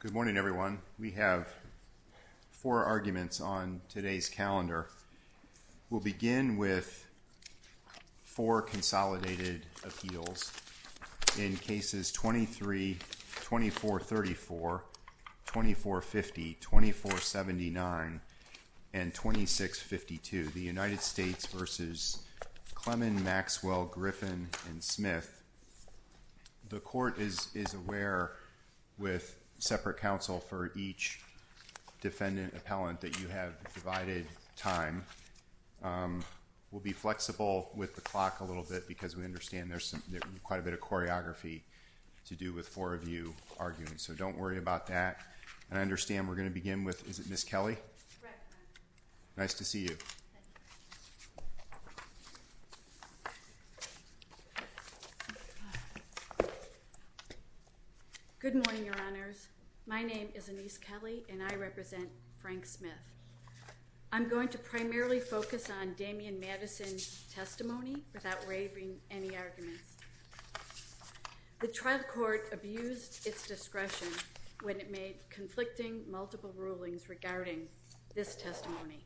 Good morning, everyone. We have four arguments on today's calendar. We'll begin with four consolidated appeals in cases 23, 2434, 2450, 2479, and 2652. The United States v. Clemon v. Maxwell, Griffin, and Smith. The court is aware with separate counsel for each defendant appellant that you have divided time. We'll be flexible with the clock a little bit because we understand there's quite a bit of choreography to do with four of you arguing, so don't worry about that. I understand we're going to begin with, is it Ms. Kelly? Nice to see you. Good morning, Your Honors. My name is Anise Kelly, and I represent Frank Smith. I'm going to primarily focus on Damian Madison's testimony without waiving any arguments. The trial court abused its discretion when it made conflicting multiple rulings regarding this testimony.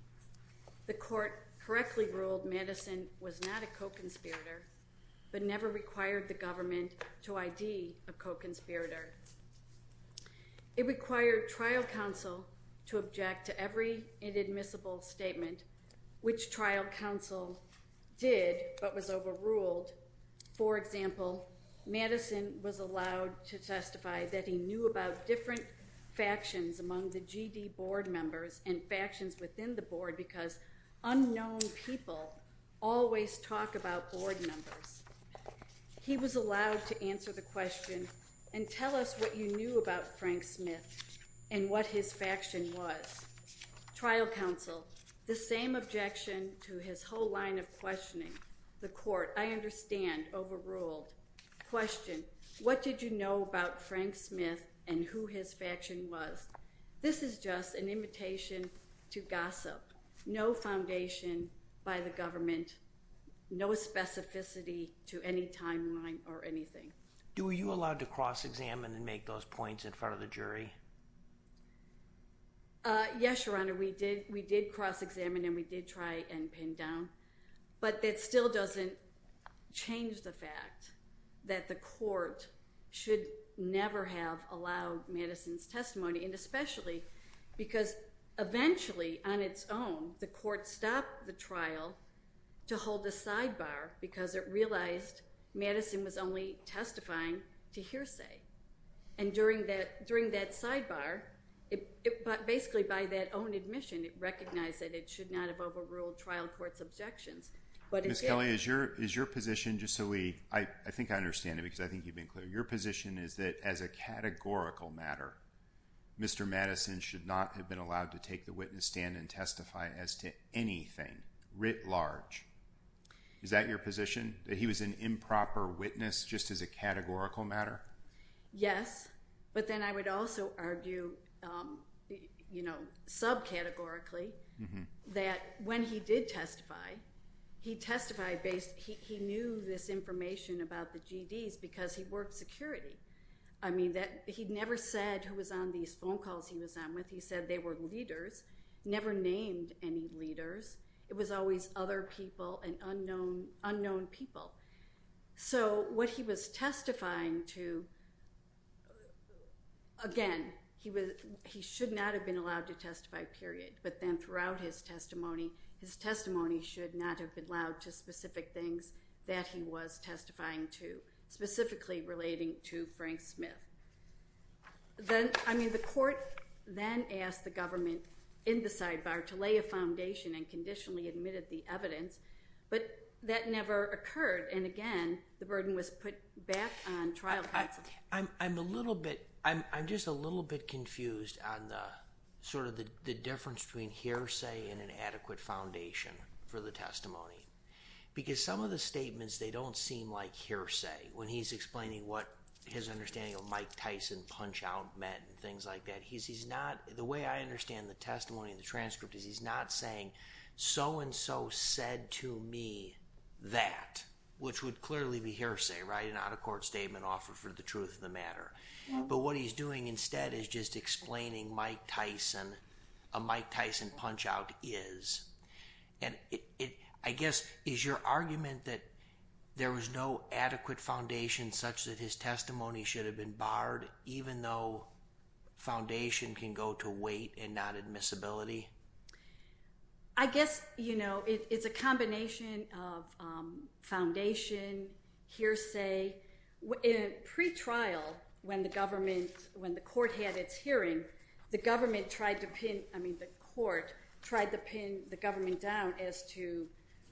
The court correctly ruled Madison was not a co-conspirator, but never required the government to ID a co-conspirator. It required trial counsel to object to every inadmissible statement, which trial counsel did, but was overruled. For example, Madison was allowed to testify that he knew about different factions among the G.D. board members and factions within the board because unknown people always talk about board members. He was allowed to answer the question, and tell us what you knew about Frank Smith and what his faction was. Trial counsel, the same objection to his whole line of questioning. The court, I understand, overruled. Question, what did you know about Frank Smith and who his faction was? This is just an imitation to gossip. No foundation by the government, no specificity to any timeline or anything. Were you allowed to cross-examine and make those points in front of the jury? Yes, Your Honor, we did cross-examine and we did try and pin down, but that still doesn't change the fact that the court should never have allowed Madison's testimony, and especially because eventually, on its own, the court stopped the trial to hold the sidebar because it realized Madison was only testifying to hearsay. During that sidebar, basically by that own admission, it recognized that it should not have overruled the trial court's objections. Ms. Kelly, is your position, just so we, I think I understand it because I think you've been clear, your position is that as a categorical matter, Mr. Madison should not have been allowed to take the witness stand and testify as to anything writ large. Is that your position? That he was an improper witness just as a categorical matter? Yes, but then I would also argue sub-categorically that when he did testify, he knew this information about the GDs because he worked security. He never said who was on these phone calls he was on with. He said they were leaders, never named any leaders. It was always other people and unknown people. So what he was testifying to, again, he should not have been allowed to testify, period. But then throughout his testimony, his testimony should not have been allowed to specific things that he was testifying to, specifically relating to Frank Smith. Then, I mean, the court then asked the government in the sidebar to lay a foundation and conditionally admitted the evidence, but that never occurred. And again, the burden was put back on trial counsel. I'm a little bit, I'm just a little bit confused on the sort of the difference between hearsay and an adequate foundation for the testimony. Because some of the statements, they don't seem like hearsay when he's explaining what his understanding of Mike Tyson punch out meant and things like that. He's not, the way I understand the testimony and the transcript is he's not saying so-and-so said to me that, which would clearly be hearsay, right? An out-of-court statement offered for the truth of the matter. But what he's doing instead is just explaining Mike Tyson, a Mike Tyson punch out is. And it, I guess, is your argument that there was no adequate foundation such that his testimony should have been barred even though foundation can go to weight and not admissibility? I guess, you know, it's a combination of foundation, hearsay. In pre-trial when the government, when the court had its hearing, the government tried to pin, I mean, the court tried to pin the government down as to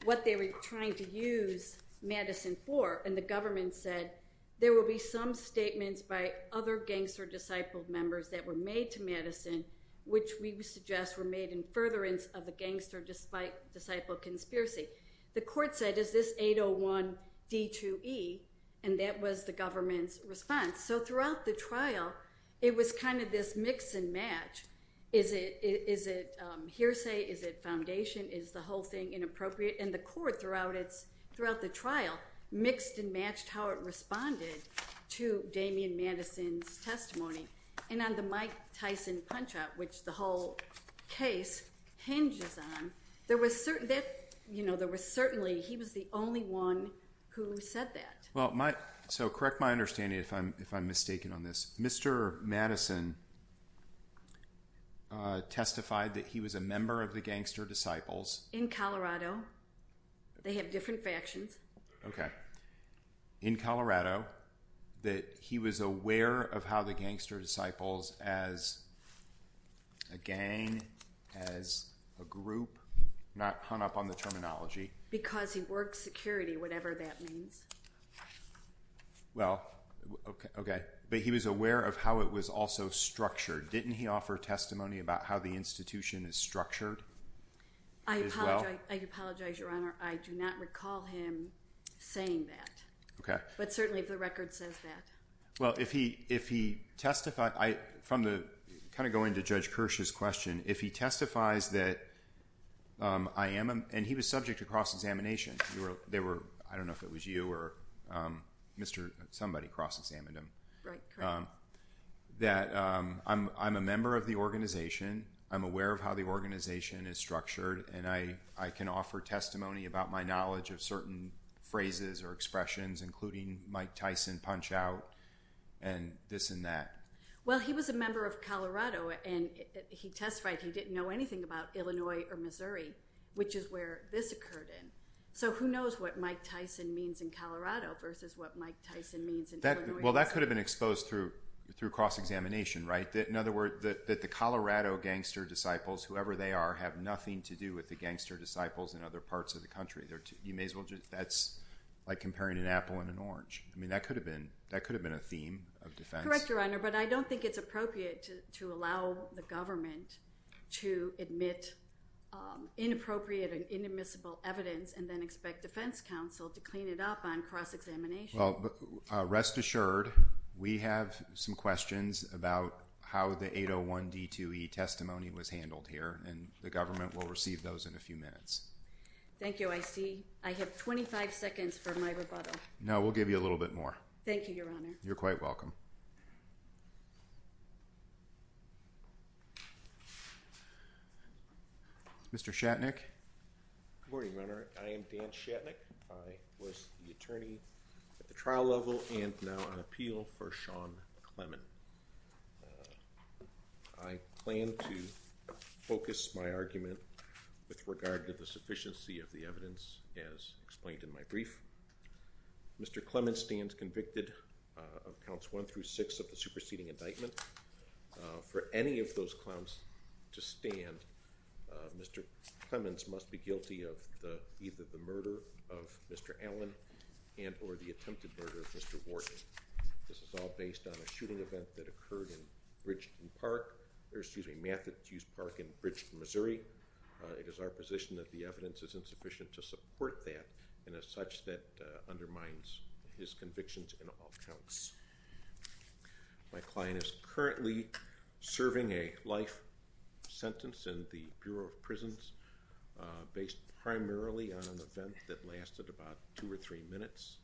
what they were trying to use Madison for. And the government said, there will be some statements by other gangster disciple members that were made to Madison, which we suggest were made in furtherance of a gangster despite disciple conspiracy. The court said, is this 801 D2E? And that was the government's response. So throughout the trial, it was kind of this mix and match. Is it hearsay? Is it foundation? Is the whole thing inappropriate? And the court throughout the trial mixed and matched how it responded to Damian Madison's testimony. And on the Mike Tyson punch out, which the whole case hinges on, there was certainly, he was the only one who said that. Well, so correct my understanding if I'm mistaken on this. Mr. Madison testified that he was a member of the gangster disciples. In Colorado. They have different factions. Okay. In Colorado, that he was aware of how the gangster disciples as, again, as a group, not hung up on the terminology. Because he worked security, whatever that means. Well, okay. But he was aware of how it was also structured. Didn't he offer testimony about how the institution is structured? I apologize. I apologize, Your Honor. I do not recall him saying that. Okay. But certainly the record says that. Well, if he, if he testified, I, from the kind of going to Judge Kirsch's question, if he testifies that I am, and he was subject to cross-examination, they were, I don't know if it was you or Mr., somebody cross-examined him. Right. Correct. That I'm, I'm a member of the organization. I'm aware of how the organization is structured. And I, I can offer testimony about my knowledge of certain phrases or expressions, including Mike Tyson punch out and this and that. Well, he was a member of Colorado and he testified he didn't know anything about Illinois or Missouri, which is where this occurred in. So who knows what Mike Tyson means in Colorado versus what Mike Tyson means in Illinois. Well, that could have been exposed through, through cross-examination, right? In other words, that the Colorado gangster disciples, whoever they are, have nothing to do with the gangster disciples in other parts of the country. You may as well just, that's like comparing an apple and an orange. I mean, that could have been, that could have been a theme of defense. Correct, Your Honor. But I don't think it's appropriate to allow the government to admit inappropriate and inadmissible evidence and then expect defense counsel to clean it up on cross-examination. Well, rest assured, we have some questions about how the 801 D2E testimony was handled here and the government will receive those in a few minutes. Thank you. I see. I have 25 seconds for my rebuttal. No, we'll give you a little bit more. Thank you, Your Honor. You're quite welcome. Mr. Shatnick. Good morning, Your Honor. I am Dan Shatnick. I was the attorney at the trial level and now on appeal for Sean Clement. I plan to focus my argument with regard to the sufficiency of the evidence as explained in my brief. Mr. Clement stands convicted of counts one through six of the superseding indictment. For any of those clowns to stand, Mr. Clements must be guilty of either the murder of Mr. Allen and or the attempted murder of Mr. Warden. This is all based on a shooting event that occurred in Bridgeton Park, or excuse me, Matthews Park in Bridgeton, Missouri. It is our position that the evidence is insufficient to support that and as such that undermines his convictions in all counts. My client is currently serving a life sentence in the Bureau of Prisons based primarily on an event that lasted about two or three minutes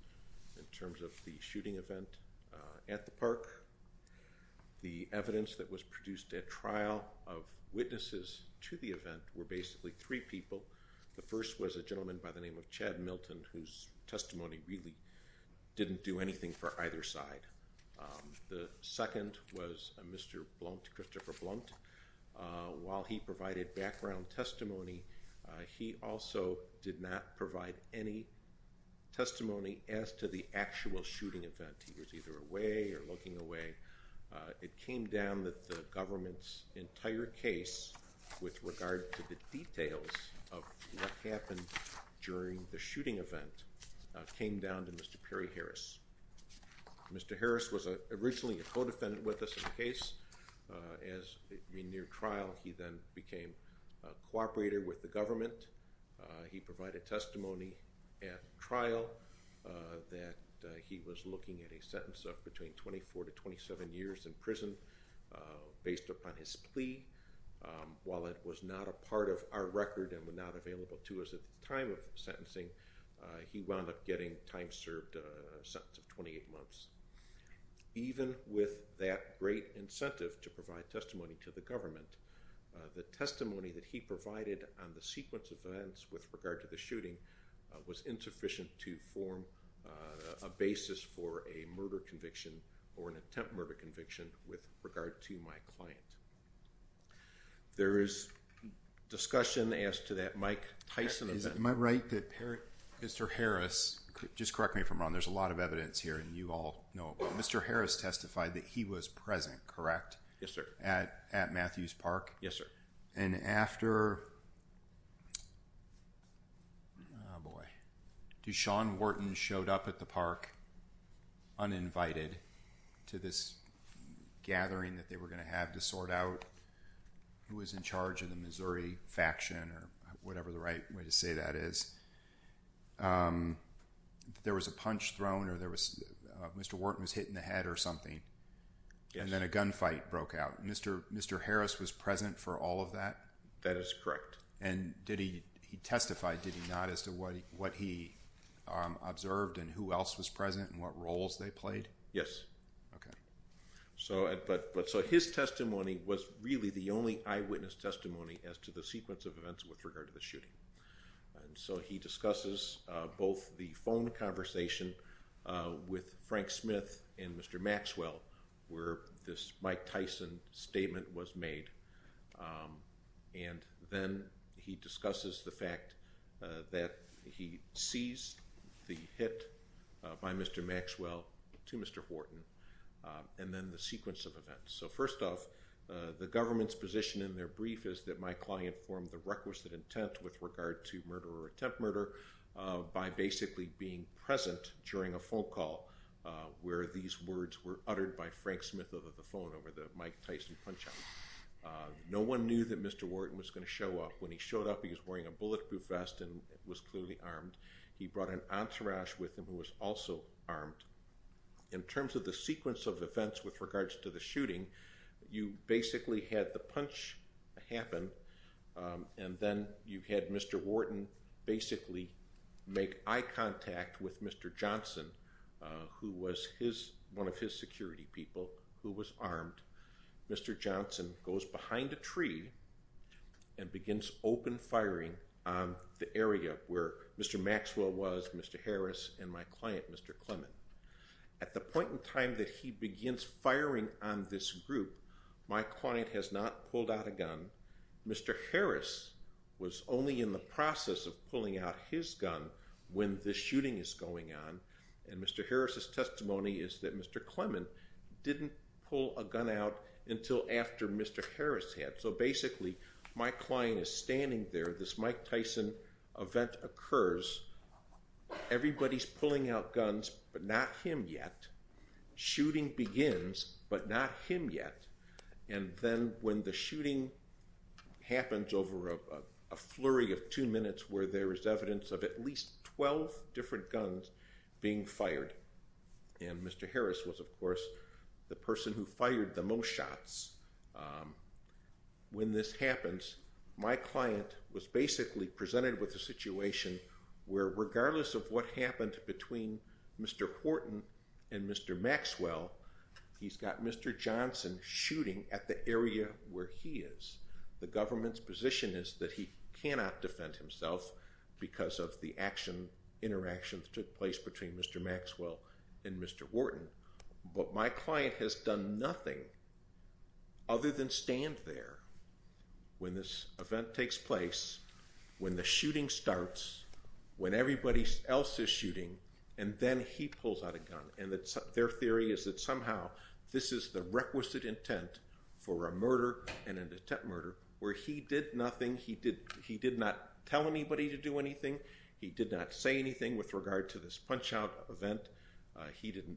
in terms of the shooting event at the park. The evidence that was produced at trial of witnesses to the event were basically three people. The first was a gentleman by the name of Chad Milton whose testimony really didn't do anything for either side. The second was Mr. Blount, Christopher Blount. While he provided background testimony, he also did not provide any testimony as to the actual shooting event. He was either away or looking away. It came down that the government's entire case with regard to the details of what happened during the shooting event came down to Mr. Perry Harris. Mr. Harris was originally a co-defendant with us in the case. As we neared trial, he then became a cooperator with the government. He provided testimony at trial that he was looking at a sentence of between 24 to 27 years in prison based upon his plea. While it was not a part of our record and was not available to us at the time of sentencing, he wound up getting a time-served sentence of 28 months. Even with that great incentive to provide testimony to the government, the testimony that he provided on the sequence of events with regard to the shooting was insufficient to form a basis for a murder conviction or an attempt murder conviction with regard to my client. There is discussion as to that Mike Tyson event. Is it my right that Mr. Harris, just correct me if I'm wrong, there's a lot of evidence here and you all know, Mr. Harris testified that he was present, correct? Yes, sir. At Matthews Park? Yes, sir. And after, oh boy, Deshaun Wharton showed up at the park uninvited to this gathering that they were going to have to sort out who was in charge of the Missouri faction or whatever the right way to say that is, there was a punch thrown or Mr. Wharton was hit in the head or and then a gunfight broke out. Mr. Harris was present for all of that? That is correct. And did he, he testified, did he not, as to what he observed and who else was present and what roles they played? Yes. Okay. So his testimony was really the only eyewitness testimony as to the sequence of events with regard to the shooting. And so he discusses both the phone conversation with Frank Smith and Mr. Maxwell, where this Mike Tyson statement was made. And then he discusses the fact that he sees the hit by Mr. Maxwell to Mr. Wharton and then the sequence of events. So first off the government's position in their brief is that my client formed a requisite intent with regard to murder or attempt murder by basically being present during a phone call where these words were uttered by Frank Smith over the phone, over the Mike Tyson punch out. No one knew that Mr. Wharton was going to show up. When he showed up, he was wearing a bulletproof vest and was clearly armed. He brought an entourage with him who was also armed. In terms of the sequence of events with regards to the shooting, you basically had the punch happen and then you had Mr. Wharton basically make eye contact with Mr. Johnson, who was one of his security people who was armed. Mr. Johnson goes behind a tree and begins open firing on the area where Mr. Maxwell was, Mr. Harris, and my client, Mr. Clement. At the point in time that he begins firing on this group, my client has not pulled out a gun. Mr. Harris was only in the process of pulling out his gun when the shooting is going on and Mr. Harris's testimony is that Mr. Clement didn't pull a gun out until after Mr. Harris had. So basically my client is standing there, this event occurs, everybody's pulling out guns but not him yet, shooting begins but not him yet, and then when the shooting happens over a flurry of two minutes where there is evidence of at least 12 different guns being fired and Mr. Harris was of course the person who fired the most shots. When this happens, my client was basically presented with a situation where regardless of what happened between Mr. Wharton and Mr. Maxwell, he's got Mr. Johnson shooting at the area where he is. The government's position is that he cannot defend himself because of the action interactions took place between Mr. Maxwell and Mr. Wharton, but my client has done nothing other than stand there when this event takes place, when the shooting starts, when everybody else is shooting, and then he pulls out a gun and their theory is that somehow this is the requisite intent for a murder and an attempt murder where he did nothing, he did not tell anybody to do anything, he did not say anything with regard to this punch out event, he didn't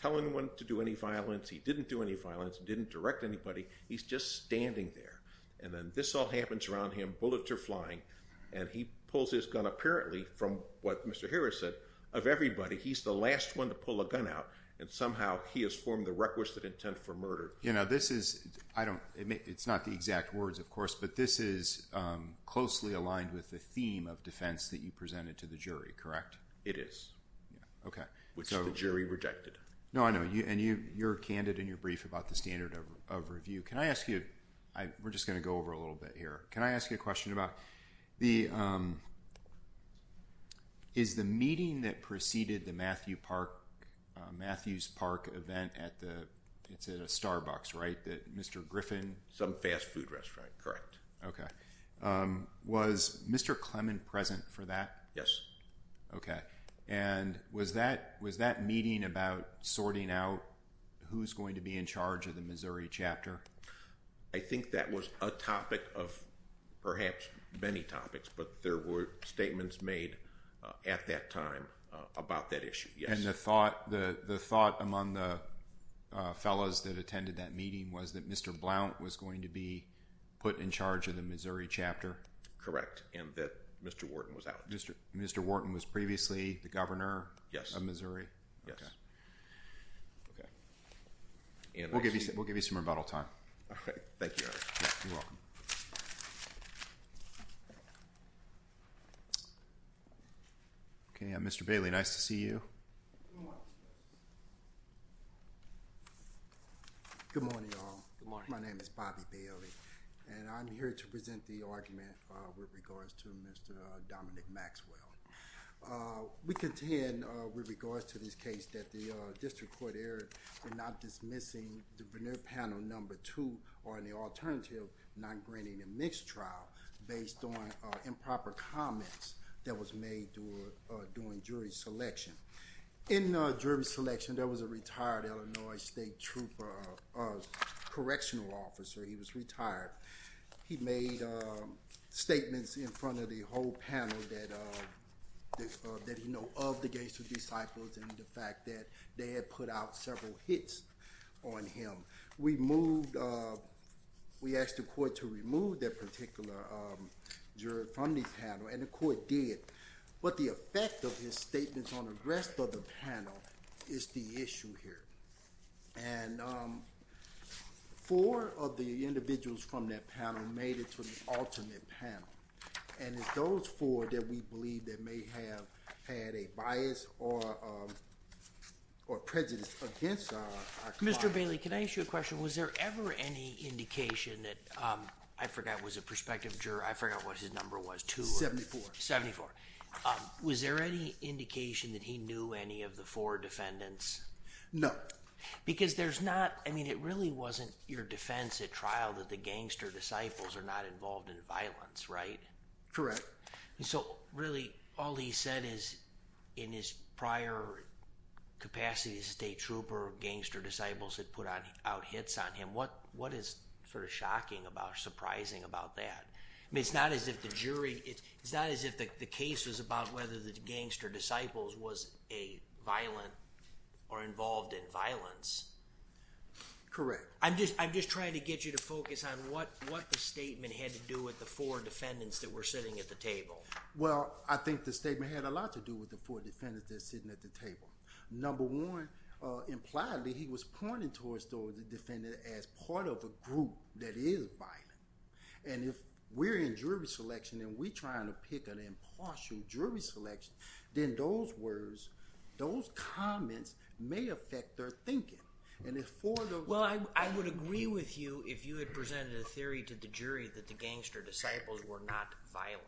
tell anyone to do any violence, he didn't do any violence, he didn't direct anybody, he's just standing there and then this all happens around him, bullets are flying, and he pulls his gun apparently from what Mr. Harris said of everybody, he's the last one to pull a gun out and somehow he has formed the requisite intent for murder. You know this is, I don't, it's not the exact words of course, but this is closely aligned with the theme of defense that you presented to the jury, correct? It is, which the jury rejected. No, I know, and you're candid in your brief about the standard of review. Can I ask you, we're just going to go over a little bit here, can I ask you a question about the, is the meeting that preceded the Matthew Park, Matthew's Park event at the, it's at a Starbucks, right, that Mr. Griffin? Some fast present for that? Yes. Okay, and was that meeting about sorting out who's going to be in charge of the Missouri chapter? I think that was a topic of perhaps many topics, but there were statements made at that time about that issue, yes. And the thought among the fellows that attended that meeting was that Mr. Blount was going to be put in charge of the Missouri chapter? Correct, and that Mr. Wharton was out. Mr. Wharton was previously the governor? Yes. Of Missouri? Yes. Okay. We'll give you some rebuttal time. Okay, thank you. You're welcome. Okay, Mr. Bailey, nice to see you. Good morning, all. Good morning. My name is Bobby Bailey, and I'm here to present the argument with regards to Mr. Dominic Maxwell. We contend with regards to this case that the district court error in not dismissing the veneer panel number two, or in the alternative, non-granting a mixed trial based on improper comments that was made during jury selection. In jury selection, there was a retired Illinois state correctional officer. He was retired. He made statements in front of the whole panel that he know of the gangster disciples and the fact that they had put out several hits on him. We asked the court to remove that particular jury from the panel, and the court did. But the effect of his statements on the rest of the panel is the issue here. Four of the individuals from that panel made it to the alternate panel, and it's those four that we believe that may have had a bias or prejudice against our client. Mr. Bailey, can I ask you a question? Was there ever any indication that... I forgot it was a prospective two. Seventy-four. Seventy-four. Was there any indication that he knew any of the four defendants? No. Because there's not... I mean, it really wasn't your defense at trial that the gangster disciples are not involved in violence, right? Correct. So really, all he said is in his prior capacity as a state trooper, gangster disciples had put out hits on him. What is sort of shocking about or surprising about that? I mean, it's not as if the jury... It's not as if the case was about whether the gangster disciples was a violent or involved in violence. Correct. I'm just trying to get you to focus on what the statement had to do with the four defendants that were sitting at the table. Well, I think the statement had a lot to do with the four defendants that are sitting at the table. Number one, impliedly, he was pointing towards the defendant as part of a group that is violent. And if we're in jury selection and we're trying to pick an impartial jury selection, then those words, those comments may affect their thinking. And if four of the- Well, I would agree with you if you had presented a theory to the jury that the gangster disciples were not violent.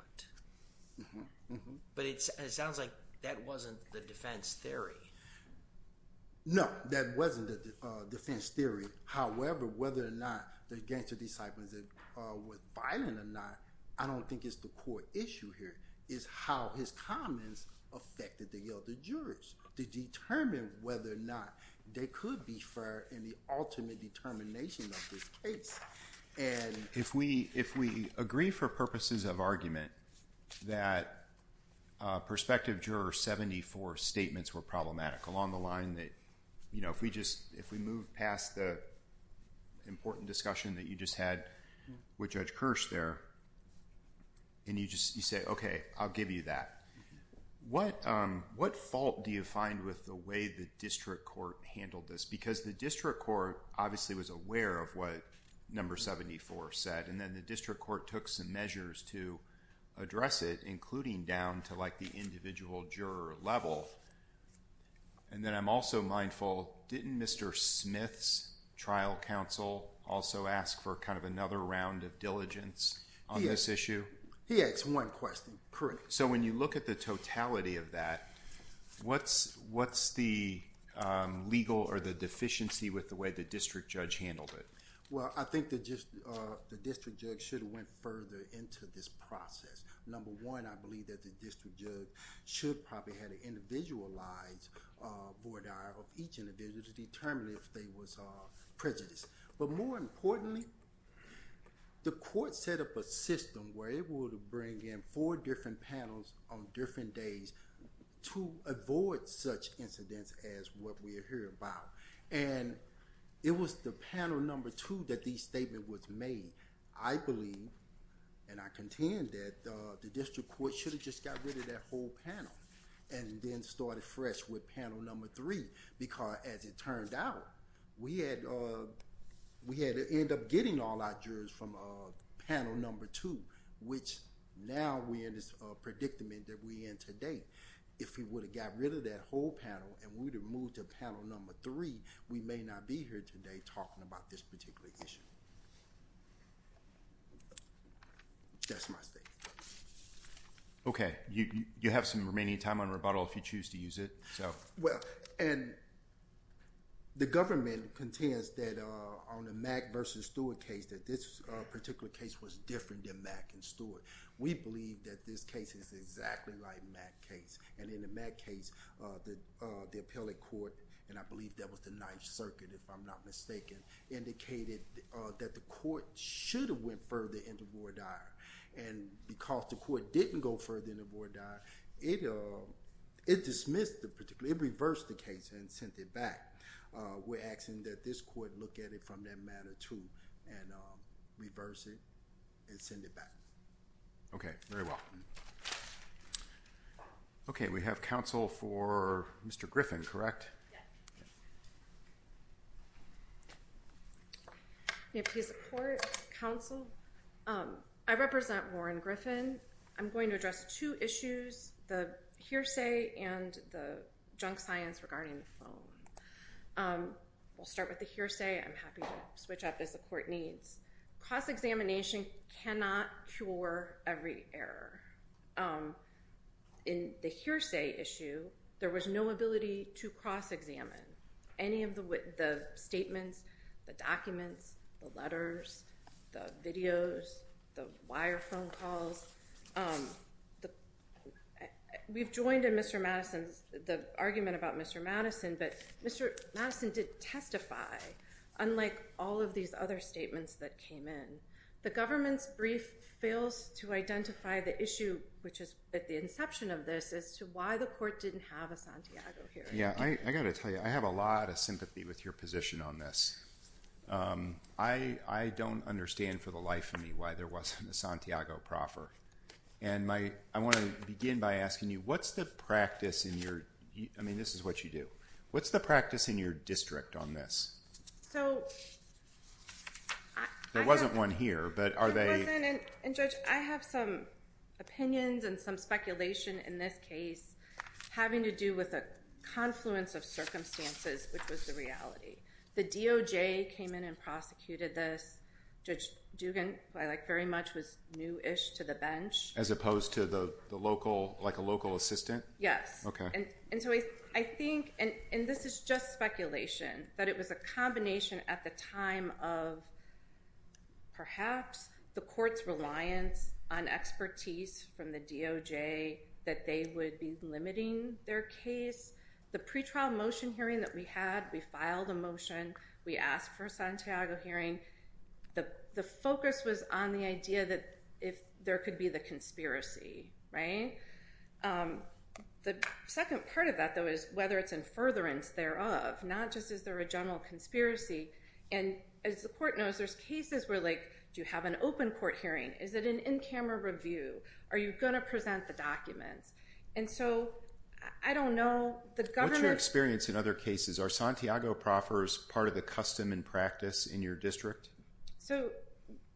But it sounds like that wasn't the defense theory. No, that wasn't the defense theory. However, whether or not the gangster disciples were violent or not, I don't think it's the core issue here, is how his comments affected the other jurors to determine whether or not they could be fair in the ultimate determination of this case. And- If we agree for purposes of argument that prospective juror 74 statements were problematic along the line that, you know, if we just- If we move past the important discussion that you just had with Judge Kirsch there and you just say, okay, I'll give you that. What fault do you find with the way the district court handled this? Because the district court obviously was aware of what number 74 said. And then the district court took some measures to address it, including down to like the individual juror level. And then I'm also mindful, didn't Mr. Smith's trial counsel also ask for kind of another round of diligence on this issue? He asked one question. Correct. So when you look at the totality of that, what's the legal or the deficiency with the way the district judge handled it? Well, I think the district judge should have went further into this process. Number one, I believe that the district judge should probably had an individualized board dialogue with each individual to determine if there was prejudice. But more importantly, the court set up a system where it would bring in four different panels on different days to avoid such incidents as what we are hearing about. And it was the panel number two that the statement was made. I believe and I contend that the district court should have just got rid of that whole panel and then started fresh with panel number three. Because as it turned out, we had to end up getting all our jurors from panel number two, which now we're in this predicament that we're in today. If we would have got rid of that whole panel and we would have moved to panel number three, we may not be here today talking about this particular issue. That's my statement. Okay. You have some remaining time on rebuttal if you choose to use it. Well, and the government contends that on the Mack versus Stewart case that this particular case was different than Mack and Stewart. We believe that this case is exactly like the Mack case. And in the Mack case, the appellate court, and I believe that was the Ninth Circuit if I'm not mistaken, indicated that the court should have went further in the board dialogue. And because the court didn't go further in the board dialogue, it reversed the case and sent it back. We're asking that this court look at it from that matter too and reverse it and send it back. Okay. Very well. Okay. We have counsel for Mr. Griffin, correct? May I please report, counsel? I represent Warren Griffin. I'm going to address two issues, the hearsay and the junk science regarding the phone. We'll start with the hearsay. I'm happy to switch up as the court needs. Cross-examination cannot cure every error. In the hearsay issue, there was no ability to cross-examine any of the statements, the documents, the letters, the videos, the wire phone calls. We've joined in Mr. Madison's, the argument about Mr. Madison, but Mr. Madison did testify, unlike all of these other statements that came in. The government's brief fails to identify the issue, which is at the inception of this, as to why the court didn't have a Santiago hearing. Yeah. I got to tell you, I have a lot of sympathy with your position on this. I don't understand for the life of me why there wasn't a Santiago proffer. I want to begin by asking you, what's the practice in your... I mean, this is what you do. What's the practice in your district on this? There wasn't one here, but are they... It wasn't. Judge, I have some opinions and some speculation in this case having to do with a confluence of circumstances, which was the reality. The DOJ came in and prosecuted this. Judge Dugan, who I like very much, was new-ish to the bench. As opposed to the local, like a local assistant? Yes. Okay. I think, and this is just speculation, that it was a combination at the time of perhaps the court's reliance on expertise from the DOJ that they would be limiting their case. The pretrial motion hearing that we had, we filed a motion. We asked for a Santiago hearing. The focus was on the idea that if there could be the conspiracy. The second part of that, though, is whether it's in furtherance thereof, not just is there a general conspiracy. As the court knows, there's cases where like, do you have an open court hearing? Is it an in-camera review? Are you going to present the documents? And so, I don't know. What's your experience in other cases? Are Santiago proffers part of the custom and practice in your district? So,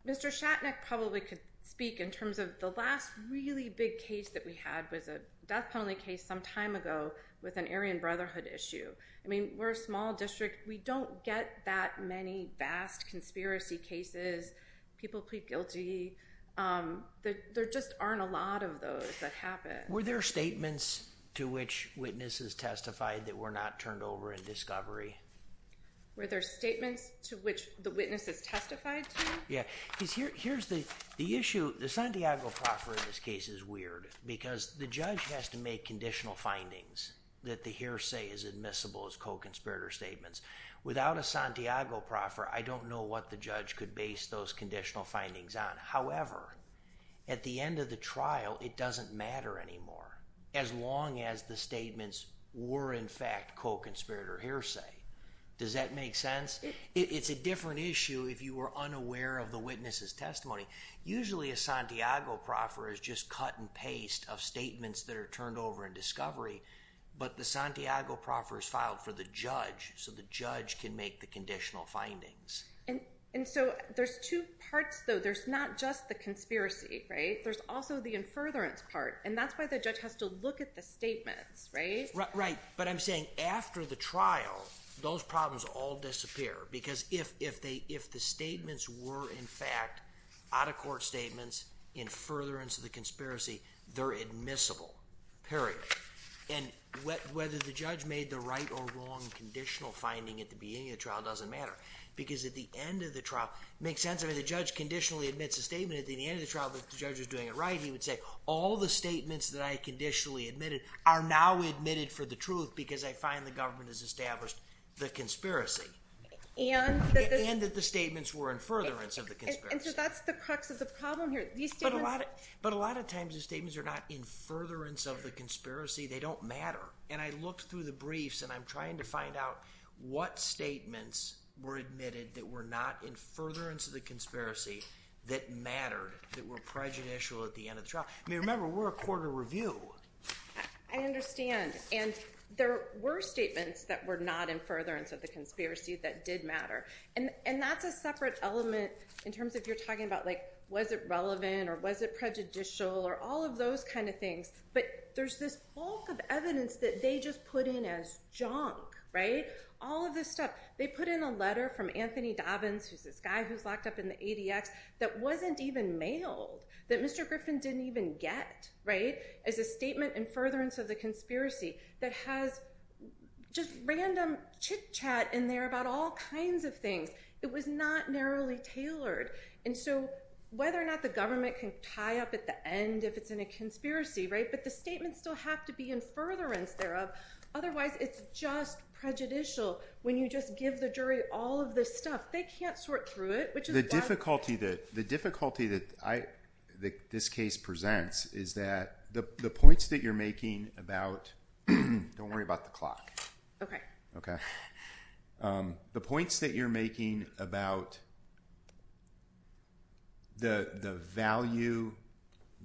Mr. Shatnick probably could speak in terms of the last really big case that we had was a death penalty case some time ago with an Aryan Brotherhood issue. I mean, we're a small district. We don't get that many vast conspiracy cases. People plead guilty. There just aren't a lot of those that happen. Were there statements to which witnesses testified that were not turned over in discovery? Were there statements to which the witnesses testified to? Yeah. Here's the issue. The Santiago proffer in this case is weird because the judge has to make conditional findings that the hearsay is admissible as co-conspirator statements. Without a Santiago proffer, I don't know what the judge could base those conditional findings on. However, at the end of the trial, it doesn't matter anymore as long as the statements were in fact co-conspirator hearsay. Does that make sense? It's a different issue if you were unaware of the witness's testimony. Usually, a Santiago proffer is just cut and paste of statements that are turned over in discovery, but the Santiago proffer is filed for the judge so the judge can make the conditional findings. There's two parts though. There's not just the conspiracy. There's also the in furtherance part. That's why the judge has to look at the statements. Right. I'm saying after the trial, those problems all disappear because if the statements were in fact out of court statements in furtherance of the conspiracy, they're admissible, period. Whether the judge made the right or wrong conditional finding at the beginning of the trial doesn't matter because at the end of the trial, it makes sense. The judge conditionally admits a statement at the end of the trial that the judge is doing it right. He would say, all the statements that I conditionally admitted are now admitted for the truth because I find the government has established the conspiracy and that the statements were in furtherance of the conspiracy, they don't matter. I looked through the briefs and I'm trying to find out what statements were admitted that were not in furtherance of the conspiracy that mattered, that were prejudicial at the end of the trial. Remember, we're a court of review. I understand. There were statements that were not in furtherance of the conspiracy that did matter. That's a separate element in terms of you're talking about was it relevant or was it prejudicial or all of those kinds of things, but there's this bulk of evidence that they just put in as junk. All of this stuff, they put in a letter from Anthony Dobbins, who's this guy who's locked up in the ADX that wasn't even mailed, that Mr. Griffin didn't even get as a statement in furtherance of the conspiracy that has just random chit chat in there about all kinds of things. It was not narrowly tailored. And so whether or not the government can tie up at the end if it's in a conspiracy, but the statements still have to be in furtherance thereof. Otherwise, it's just prejudicial when you just give the jury all of this stuff. They can't sort through it, which is why- The difficulty that this case presents is that the points that you're making about the value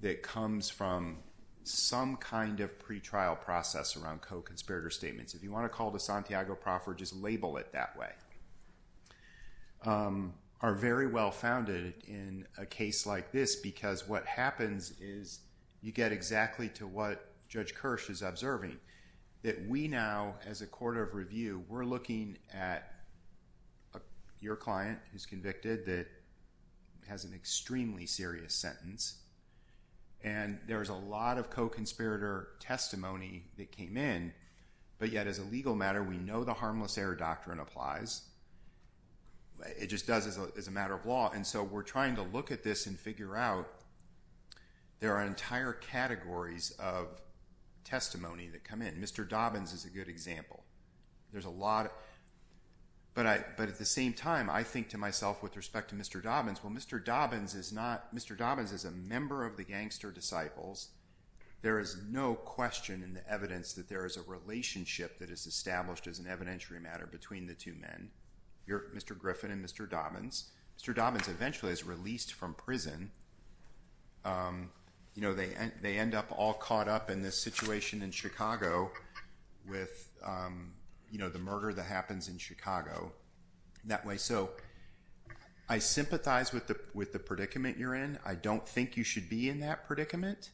that comes from some kind of pretrial process around co-conspirator statements, if you want to call the Santiago proffer, just label it that way, are very well founded in a case like this because what happens is you get exactly to what Judge Kirsch is observing, that we now, as a court of review, we're looking at your client who's convicted that has an extremely serious sentence. And there's a lot of co-conspirator testimony that came in, but yet as a legal matter, we know the harmless error doctrine applies. It just does as a matter of law. And so we're trying to look at this and figure out there are entire categories of testimony that come in. Mr. Dobbins is a good example. There's a lot, but I, but at the same time, I think to myself with respect to Mr. Dobbins, well, Mr. Dobbins is not, Mr. Dobbins is a member of the gangster disciples. There is no question in the evidence that there is a relationship that is established as an evidentiary matter between the two men, Mr. Griffin and Mr. Dobbins. Mr. Dobbins eventually is released from prison you know, they, they end up all caught up in this situation in Chicago with you know, the murder that happens in Chicago that way. So I sympathize with the, with the predicament you're in. I don't think you should be in that predicament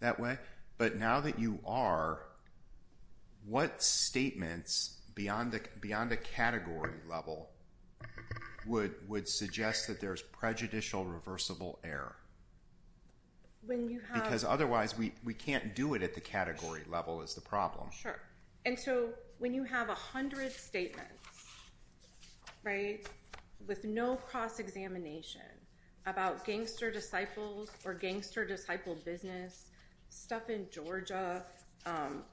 that way, but now that you are, what statements beyond the, beyond the category level would, would suggest that there's prejudicial reversible error? Because otherwise we can't do it at the category level is the problem. Sure. And so when you have a hundred statements, right. With no cross-examination about gangster disciples or gangster disciple business stuff in Georgia,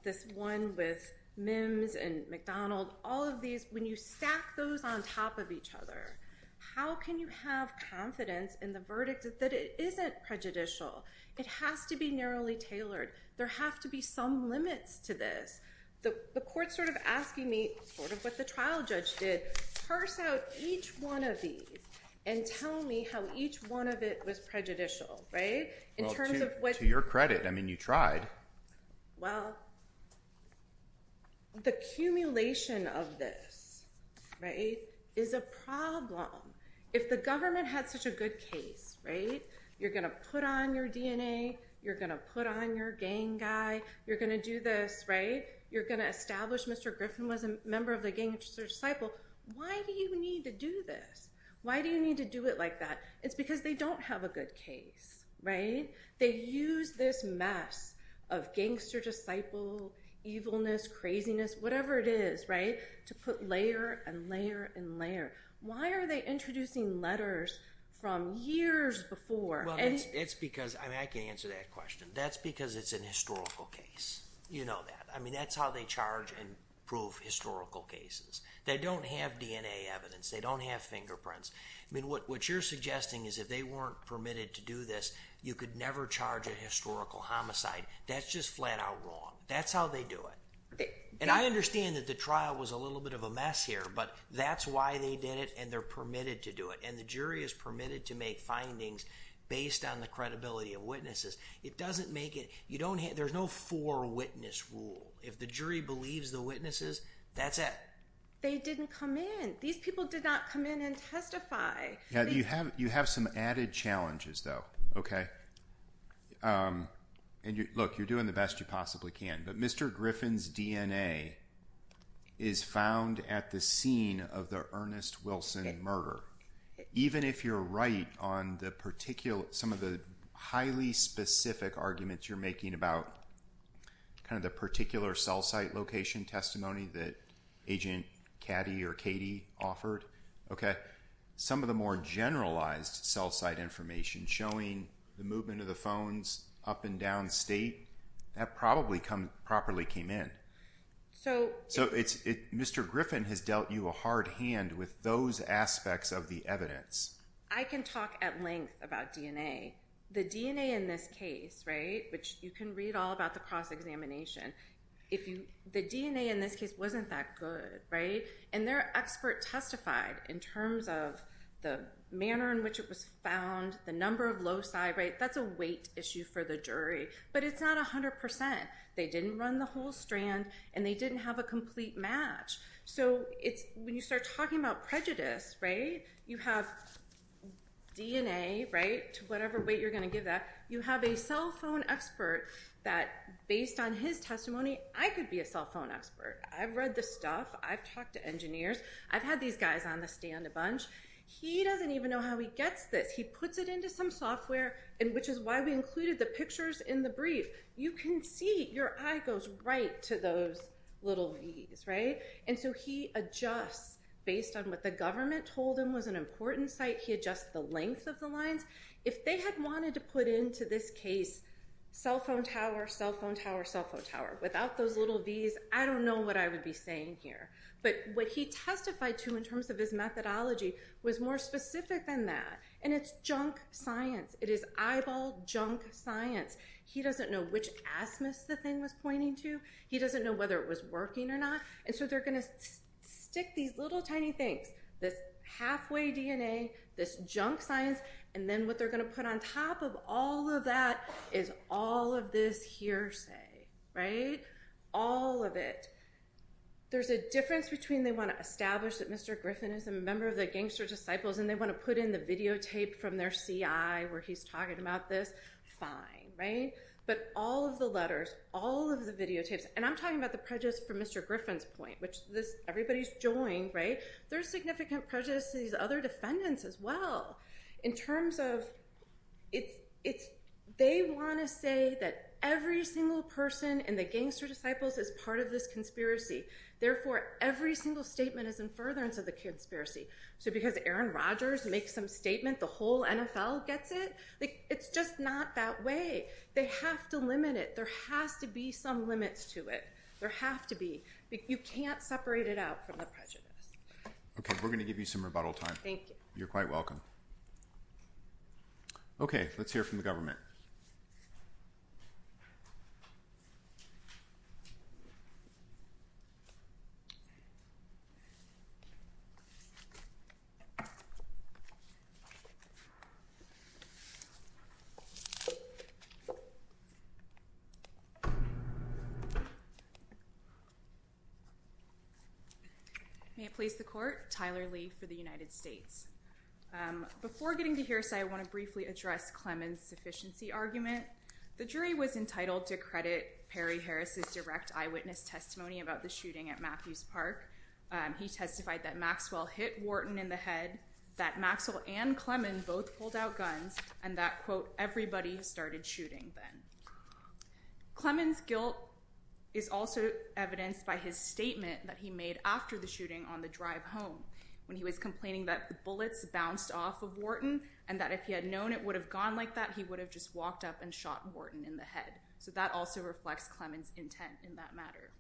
this one with Mims and McDonald, all of these, when you stack those on top of each other, how can you have confidence in the verdict that it isn't prejudicial? It has to be narrowly tailored. There have to be some limits to this. The court sort of asking me sort of what the trial judge did, parse out each one of these and tell me how each one of it was prejudicial, right? To your credit, I mean, you tried. Well, the accumulation of this, right, is a problem. If the government had such a good case, right? You're going to put on your DNA. You're going to put on your gang guy. You're going to do this, right? You're going to establish Mr. Griffin was a member of the gangster disciple. Why do you need to do this? Why do you need to do it like that? It's because they don't have a good case, right? They use this mess of gangster disciple evilness, craziness, whatever it is, right, to put layer and layer and layer. Why are they introducing letters from years before? Well, it's because, I mean, I can answer that question. That's because it's a historical case. You know that. I mean, that's how they charge and prove historical cases. They don't have DNA evidence. They don't have fingerprints. I mean, what you're suggesting is if they weren't permitted to do this, you could never charge a historical homicide. That's just flat out wrong. That's how they do it. And I understand that the trial was a little bit of a mess here, but that's why they did it and they're permitted to do it. And the jury is permitted to make findings based on the credibility of witnesses. It doesn't make it, you don't have, there's no four witness rule. If the jury believes the that's it. They didn't come in. These people did not come in and testify. Yeah. You have, you have some added challenges though. Okay. Um, and you look, you're doing the best you possibly can, but Mr. Griffin's DNA is found at the scene of the Ernest Wilson murder. Even if you're right on the particular, some of the highly specific arguments you're making about kind of the particular cell site location testimony that agent caddy or Katie offered. Okay. Some of the more generalized cell site information showing the movement of the phones up and down state that probably come properly came in. So, so it's, it, Mr. Griffin has dealt you a hard hand with those aspects of the evidence. I can talk at length about DNA, the DNA in this case, right? Which you can read all the cross-examination. If you, the DNA in this case wasn't that good, right? And their expert testified in terms of the manner in which it was found, the number of loci, right? That's a weight issue for the jury, but it's not a hundred percent. They didn't run the whole strand and they didn't have a complete match. So it's when you start talking about prejudice, right? You have DNA, right? Whatever weight you're going to give that you have a cell phone expert that based on his testimony, I could be a cell phone expert. I've read the stuff. I've talked to engineers. I've had these guys on the stand a bunch. He doesn't even know how he gets this. He puts it into some software and which is why we included the pictures in the brief. You can see your eye goes right to those little knees, right? And so he adjusts based on what the government told him was an important site. He adjusts the length of the lines. If they had wanted to put into this case, cell phone tower, cell phone tower, cell phone tower, without those little Vs, I don't know what I would be saying here. But what he testified to in terms of his methodology was more specific than that. And it's junk science. It is eyeball junk science. He doesn't know which asthmus the thing was pointing to. He doesn't know whether it was working or not. And so they're going to stick these little tiny things, this halfway DNA, this junk science, and then what they're going to put on top of all of that is all of this hearsay, right? All of it. There's a difference between they want to establish that Mr. Griffin is a member of the gangster disciples and they want to put in the videotape from their CI where he's talking about this. Fine, right? But all of the letters, all of the videotapes, and I'm talking about the prejudice from Mr. Griffin's point, which everybody's joined, right? There's significant prejudice to these other defendants as well. In terms of it's, they want to say that every single person in the gangster disciples is part of this conspiracy. Therefore, every single statement is in furtherance of the conspiracy. So because Aaron Rogers makes some statement, the whole NFL gets it, like it's just not that way. They have to limit it. There has to be some limits to it. There have to be, you can't separate it out from the prejudice. Okay. We're going to give you some rebuttal time. Thank you. You're quite welcome. Okay. Let's hear from the government. Okay. May it please the court, Tyler Lee for the United States. Before getting to hear say, I want to briefly address Clemens sufficiency argument. The jury was entitled to credit Perry Harris's direct eyewitness testimony about the shooting at Matthews park. He testified that Maxwell hit Wharton in the head, that Maxwell and Clemens both pulled out guns and that quote, everybody started shooting then Clemens guilt is also evidenced by his statement that he made after the shooting on the drive home when he was complaining that the bullets bounced off of Wharton and that if he had known it would have gone like that, he would have just walked up and shot Wharton in the head. So that also reflects Clemens intent in that matter.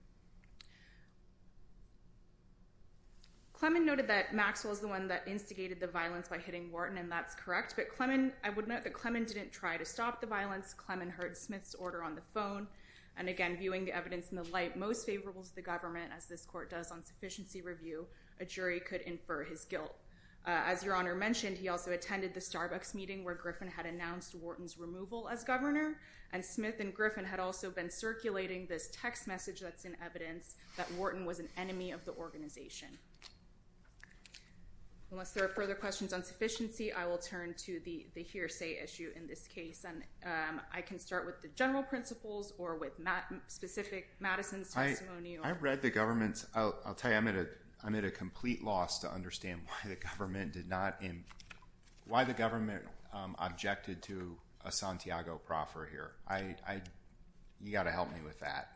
Clemens noted that Maxwell is the one that instigated the violence by hitting Wharton and that's correct. But Clemens, I would note that Clemens didn't try to stop the violence. Clemens heard Smith's order on the phone. And again, viewing the evidence in the light, most favorable to the government as this court does on sufficiency review, a jury could infer his guilt. As your honor mentioned, he also attended the Starbucks meeting where Griffin had announced Wharton's removal as governor and Smith and Griffin had also been circulating this text message that's in evidence that Wharton was an enemy of the organization. Unless there are further questions on sufficiency, I will turn to the hearsay issue in this case. And I can start with the general principles or with Matt specific Madison's testimony. I read the government's I'll tell you, I'm at a, I'm at a complete loss to understand the government did not. And why the government, um, objected to a Santiago proffer here. I, I, you gotta help me with that.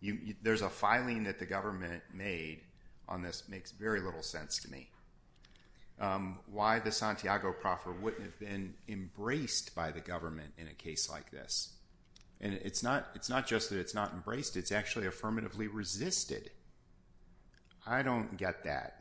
You, there's a filing that the government made on this makes very little sense to me. Um, why the Santiago proffer wouldn't have been embraced by the government in a case like this. And it's not, it's not just that it's not embraced. It's actually affirmatively resisted. I don't get that.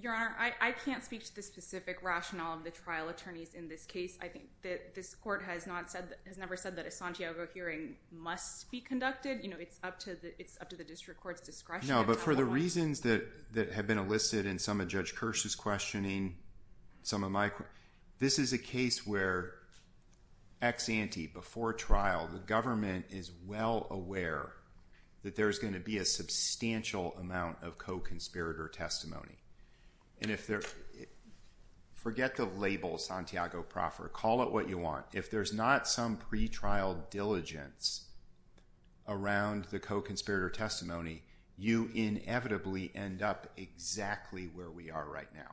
Your honor. I can't speak to the specific rationale of the trial attorneys in this case. I think that this court has not said, has never said that a Santiago hearing must be conducted. You know, it's up to the, it's up to the district court's discretion. No, but for the reasons that, that have been elicited in some of judge curse's questioning, some of my, this is a case where ex ante before trial, the government is well aware that there's a substantial amount of co-conspirator testimony. And if there, forget the label Santiago proffer, call it what you want. If there's not some pretrial diligence around the co-conspirator testimony, you inevitably end up exactly where we are right now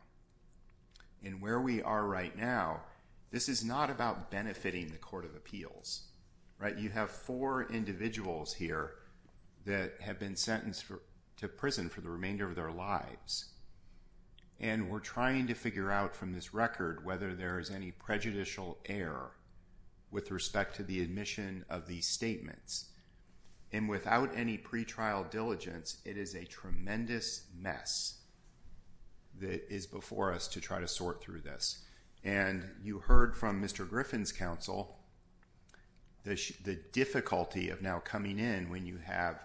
and where we are right now. This is not about benefiting the court of appeals, right? You have four individuals here that have been sentenced to prison for the remainder of their lives. And we're trying to figure out from this record whether there is any prejudicial error with respect to the admission of these statements. And without any pretrial diligence, it is a tremendous mess that is before us to try to sort through this. And you heard from Mr. Griffin's counsel, the, the difficulty of now coming in when you have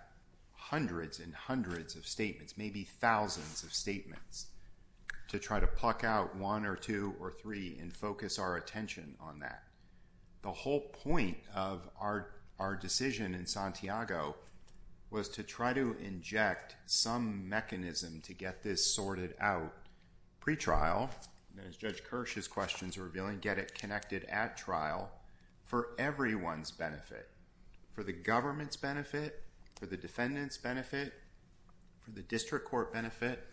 hundreds and hundreds of statements, maybe thousands of statements to try to pluck out one or two or three and focus our attention on that. The whole point of our, our decision in Santiago was to try to inject some mechanism to get this sorted out pretrial. And as judge Kirsch's questions were revealing, get it connected at for everyone's benefit, for the government's benefit, for the defendant's benefit, for the district court benefit,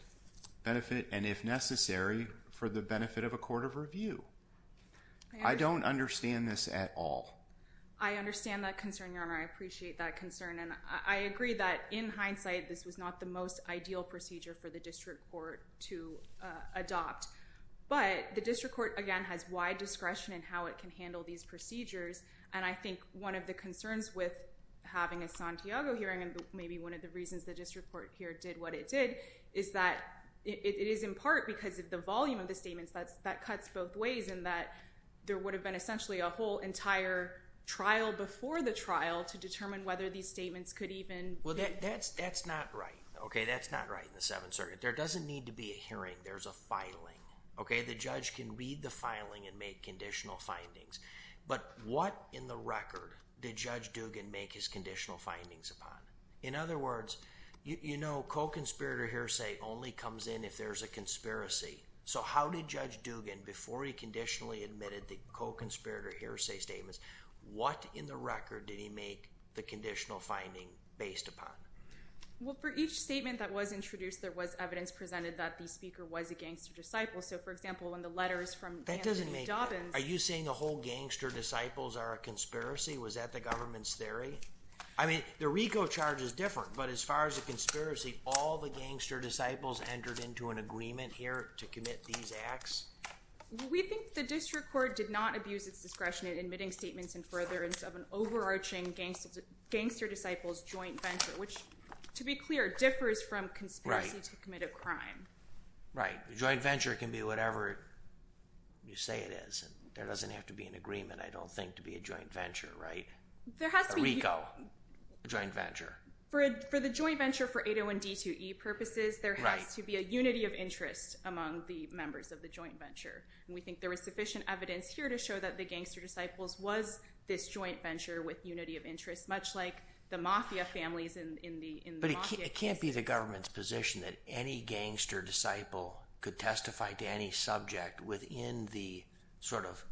benefit, and if necessary, for the benefit of a court of review. I don't understand this at all. I understand that concern, your honor. I appreciate that concern. And I agree that in hindsight, this was not the most ideal procedure for the district court to adopt, but the district court, again, has wide discretion in how it can handle these procedures. And I think one of the concerns with having a Santiago hearing, and maybe one of the reasons the district court here did what it did is that it is in part because of the volume of the statements that's, that cuts both ways and that there would have been essentially a whole entire trial before the trial to determine whether these statements could even. Well, that's, that's not right. Okay. That's not right in the seventh circuit. There doesn't need to be a hearing. There's a filing. Okay. The judge can read the filing and make conditional findings, but what in the record did judge Dugan make his conditional findings upon? In other words, you know, co-conspirator hearsay only comes in if there's a conspiracy. So how did judge Dugan, before he conditionally admitted the co-conspirator hearsay statements, what in the record did he make the conditional finding based upon? Well, for each statement that was introduced, there was evidence presented that the speaker was a gangster disciple. So for example, in the letters from Anthony Dobbins. Are you saying the whole gangster disciples are a conspiracy? Was that the government's theory? I mean, the RICO charge is different, but as far as the conspiracy, all the gangster disciples entered into an agreement here to commit these acts? We think the district court did not abuse its discretion in admitting statements and furtherance of an overarching gangster disciples joint venture, which to be clear, differs from conspiracy to commit a crime. Right. The joint venture can be whatever you say it is. There doesn't have to be an agreement, I don't think, to be a joint venture, right? There has to be. A RICO joint venture. For the joint venture for 801 D2E purposes, there has to be a unity of interest among the members of the joint venture. And we think there is sufficient evidence here to show that the gangster disciples was this joint venture with unity of interest, much like the mafia families in the. But it can't be the government's position that any gangster disciple could testify to any subject within the sort of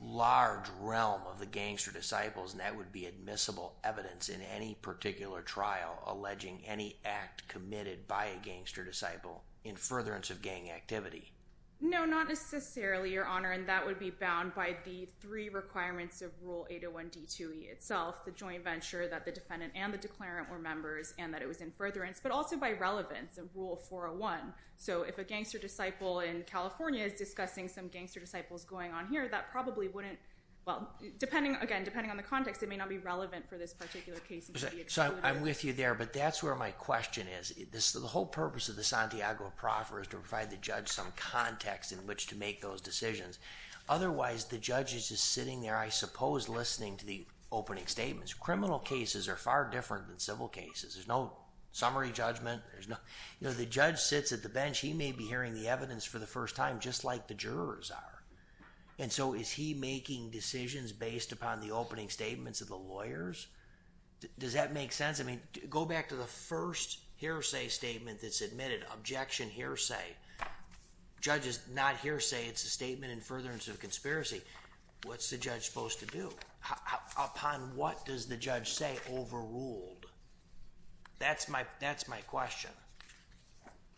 large realm of the gangster disciples. And that would be admissible evidence in any particular trial alleging any act committed by a gangster disciple in furtherance of gang activity. No, not necessarily, Your Honor. And that would be bound by the three requirements of Rule 801 D2E itself, the joint venture that the defendant and the declarant were members and that it was in furtherance, but also by relevance of Rule 401. So if a gangster disciple in California is discussing some gangster disciples going on here, that probably wouldn't. Well, depending again, depending on the context, it may not be relevant for this particular case. So I'm with you there, but that's where my question is. The whole purpose of the Santiago proffer is to provide the judge some context in which to make those decisions. Otherwise, the judge is just sitting there, I suppose, listening to the opening statements. Criminal cases are far different than civil cases. There's no summary judgment. The judge sits at the bench. He may be hearing the evidence for the first time, just like the jurors are. And so is he making decisions based upon the opening statements of the lawyers? Does that make sense? I mean, go back to the first hearsay statement that's admitted, objection hearsay. Judge is not hearsay. It's a statement in furtherance of conspiracy. What's the judge supposed to do? Upon what does the judge say overruled? That's my question.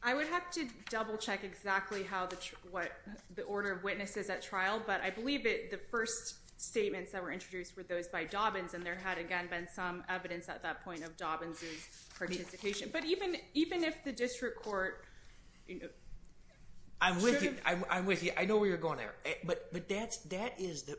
I would have to double check exactly how the, what the order of witnesses at trial, but I believe the first statements that were introduced were those by Dobbins. And there had, again, been some evidence at that point of Dobbins' participation. But even if the district court... I'm with you. I'm with you. I know where you're going there. But that is,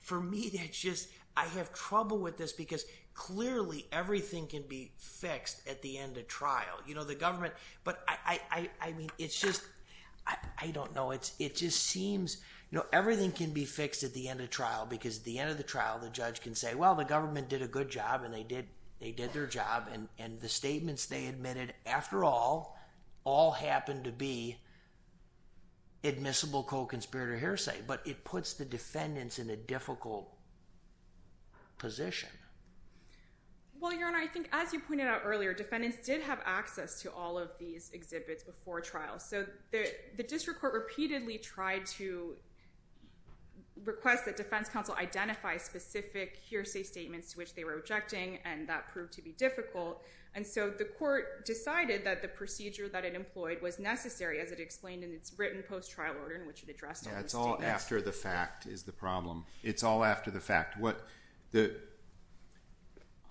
for me, that's just, I have trouble with this because clearly everything can be fixed at the end of trial. The government, but I mean, it's just, I don't know. It just seems everything can be fixed at the end of trial because at the end of the trial, the judge can say, well, the government did a good job and they did their job. And the statements they admitted after all, all happened to be admissible co-conspirator hearsay, but it puts the defendants in a difficult position. Well, Your Honor, I think as you pointed out earlier, defendants did have access to all of these exhibits before trial. So the district court repeatedly tried to request that defense counsel identify specific hearsay statements to which they were objecting, and that proved to be difficult. And so the court decided that the procedure that it employed was necessary as it explained in its written post-trial order in which it addressed all the statements. That's all after the fact is the problem. It's all after the fact. What the...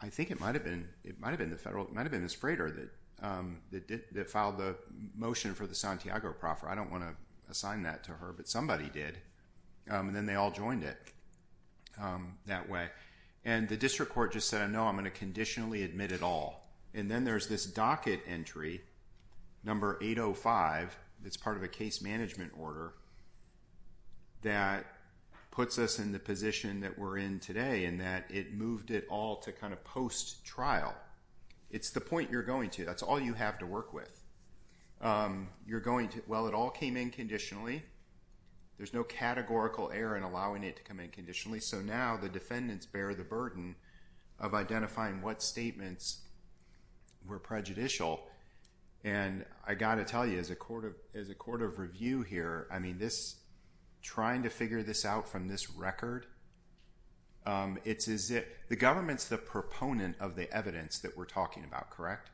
I think it might have been, it might have been the federal, it might have been this freighter that filed the motion for the Santiago proffer. I don't want to assign that to her, but somebody did. And then they all joined it that way. And the district court just said, no, I'm going to conditionally admit it all. And then there's this docket entry, number 805, that's part of a case management order that puts us in the position that we're in today in that it moved it all to kind of post-trial. It's the point you're going to, that's all you have to work with. You're going to, well, it all came in conditionally. There's no categorical error in allowing it to come in conditionally. So now the defendants bear the burden of identifying what statements were prejudicial. And I got to tell you, as a court of review here, trying to figure this out from this record, the government's the proponent of the evidence that we're talking about, correct?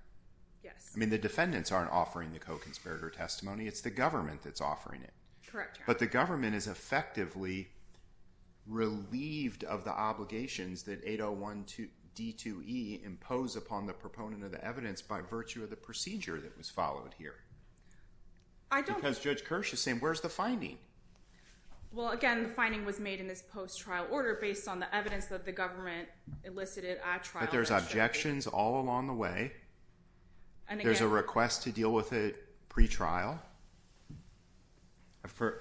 Yes. I mean, the defendants aren't offering the co-conspirator testimony. It's the government that's offering it. Correct. But the government is effectively relieved of the obligations that 801D2E impose upon the proponent of the evidence by virtue of the procedure that was followed here. Because Judge Kirsch is saying, where's the finding? Well, again, the finding was made in this post-trial order based on the evidence that the government elicited at trial. But there's objections all along the way. There's a request to deal with it pre-trial.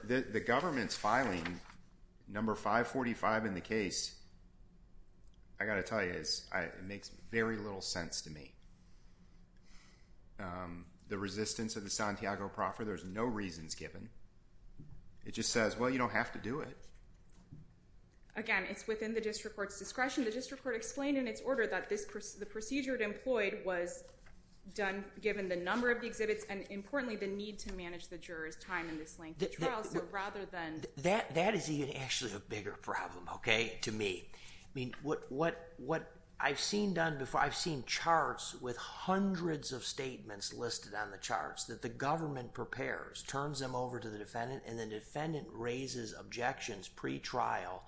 The government's filing number 545 in the case, I got to tell you, it makes very little sense to me. The resistance of the Santiago proffer, there's no reasons given. It just says, well, you don't have to do it. Again, it's within the district court's discretion. The district court explained in its order that the procedure employed was given the number of the exhibits and, importantly, the need to manage the juror's time in this length of trial. So rather than— That is even actually a bigger problem, okay, to me. I mean, what I've seen done before, I've seen charts with hundreds of statements listed on the charts that the government prepares, turns them over to the defendant, and the defendant raises objections pre-trial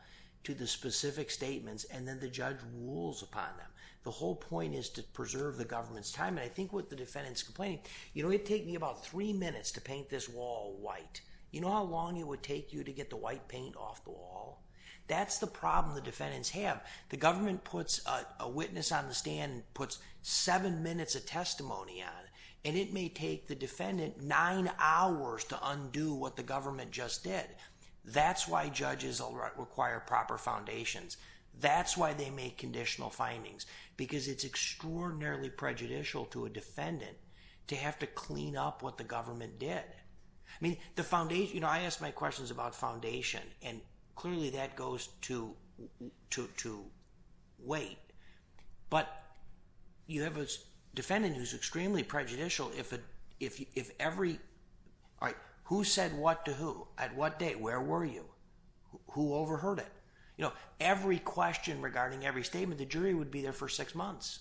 to the specific statements, and then the judge rules upon them. The whole point is to preserve the government's time. And I think what the defendant's complaining, you know, it'd take me about three minutes to paint this wall white. You know how long it would take you to get the white paint off the wall? That's the problem the defendants have. The government puts a witness on the stand and puts seven minutes of testimony on it, and it may take the defendant nine hours to undo what the government just did. That's why judges require proper foundations. That's why they make conditional findings, because it's extraordinarily prejudicial to a defendant to have to clean up what the government did. I mean, the foundation—you know, I ask my questions about foundation, and clearly that goes to weight. But you have a defendant who's extremely prejudicial if every—all right, who said what to who? At what date? Where were you? Who overheard it? You know, every question regarding every statement, the jury would be there for six months.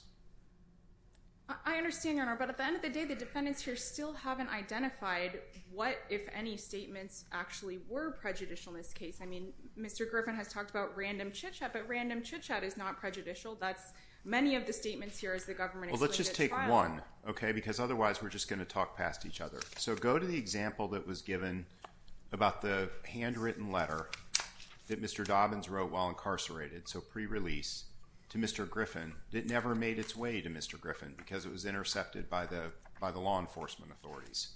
I understand, Your Honor, but at the end of the day, the defendants here still haven't identified what, if any, statements actually were prejudicial in this case. I mean, Mr. Griffin has talked about random chitchat, but random chitchat is not prejudicial. That's—many of the statements here is the government— Well, let's just take one, okay, because otherwise we're just going to talk past each other. So go to the example that was given about the handwritten letter that Mr. Dobbins wrote while incarcerated, so pre-release, to Mr. Griffin. It never made its way to Mr. Griffin because it was intercepted by the law enforcement authorities.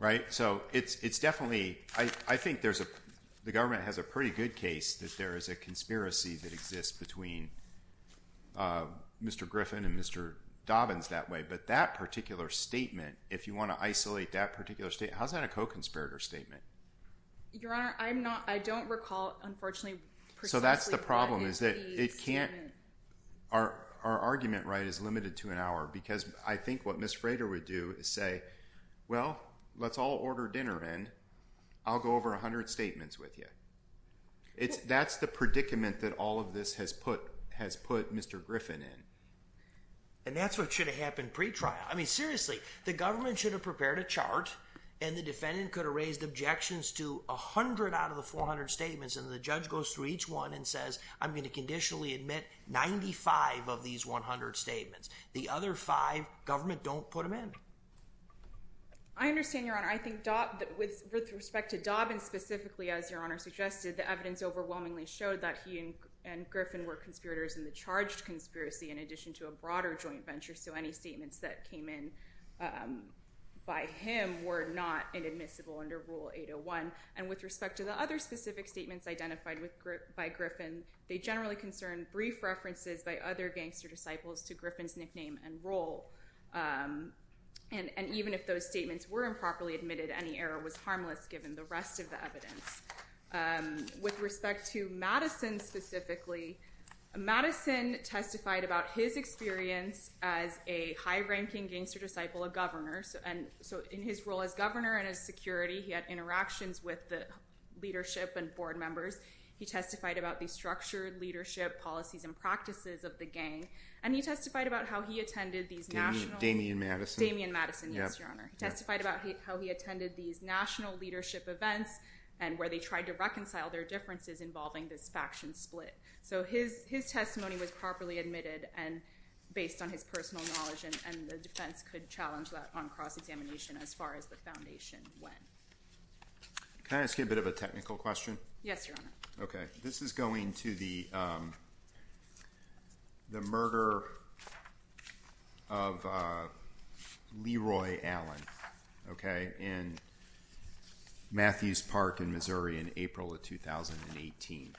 Right? So it's definitely—I think there's a—the government has a pretty good case that there is a conspiracy that exists between Mr. Griffin and Mr. Dobbins that way, but that particular statement, if you want to isolate that particular statement— how's that a co-conspirator statement? Your Honor, I'm not—I don't recall, unfortunately, precisely what is the statement. So that's the problem is that it can't—our argument, right, is limited to an hour because I think what Ms. Frater would do is say, well, let's all order dinner in. I'll go over 100 statements with you. That's the predicament that all of this has put Mr. Griffin in. And that's what should have happened pre-trial. I mean, seriously, the government should have prepared a chart and the defendant could have raised objections to 100 out of the 400 statements and the judge goes through each one and says, I'm going to conditionally admit 95 of these 100 statements. The other five, government don't put them in. I understand, Your Honor. I think with respect to Dobbins specifically, as Your Honor suggested, the evidence overwhelmingly showed that he and Griffin were conspirators in the charged conspiracy in addition to a broader joint venture. So any statements that came in by him were not inadmissible under Rule 801. And with respect to the other specific statements identified by Griffin, they generally concern brief references by other gangster disciples to Griffin's nickname and role. And even if those statements were improperly admitted, any error was harmless given the rest of the evidence. With respect to Madison specifically, Madison testified about his experience as a high-ranking gangster disciple, a governor. And so in his role as governor and as security, he had interactions with the leadership and board members. He testified about the structured leadership policies and practices of the gang. And he testified about how he attended these national... Damian Madison. Damian Madison, yes, Your Honor. Testified about how he attended these national leadership events and where they tried to reconcile their differences involving this faction split. So his testimony was properly admitted and based on his personal knowledge and the defense could challenge that on cross-examination as far as the foundation went. Can I ask you a bit of a technical question? Yes, Your Honor. Okay. This is going to the murder of Leroy Allen, okay, in Matthews Park in Missouri in April of 2018.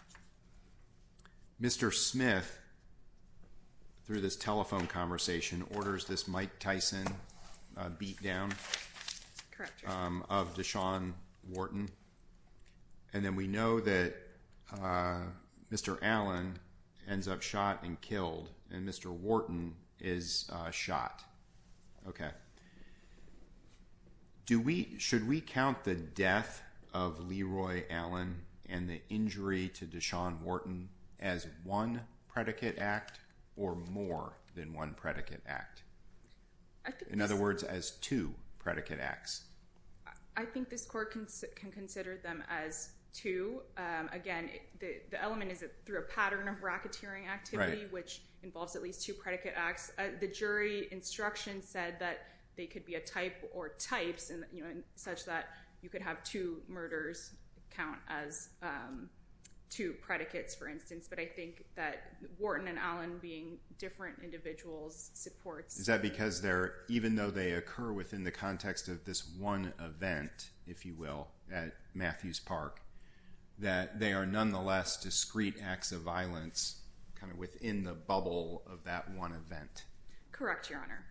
Mr. Smith, through this telephone conversation, orders this Mike Tyson beatdown of Deshaun Wharton. And then we know that Mr. Allen ends up shot and killed, and Mr. Wharton is shot, okay. Should we count the death of Leroy Allen and the injury to Deshaun Wharton as one predicate act or more than one predicate act? In other words, as two predicate acts. I think this court can consider them as two. Again, the element is through a pattern of racketeering activity, which involves at least two predicate acts. The jury instruction said that they could be a type or types such that you could have two murders count as two predicates, for instance. But I think that Wharton and Allen being different individuals supports... Is that because even though they occur within the context of this one event, if you will, at Matthews Park, that they are nonetheless discrete acts of violence kind of within the bubble of that one event? Correct, Your Honor.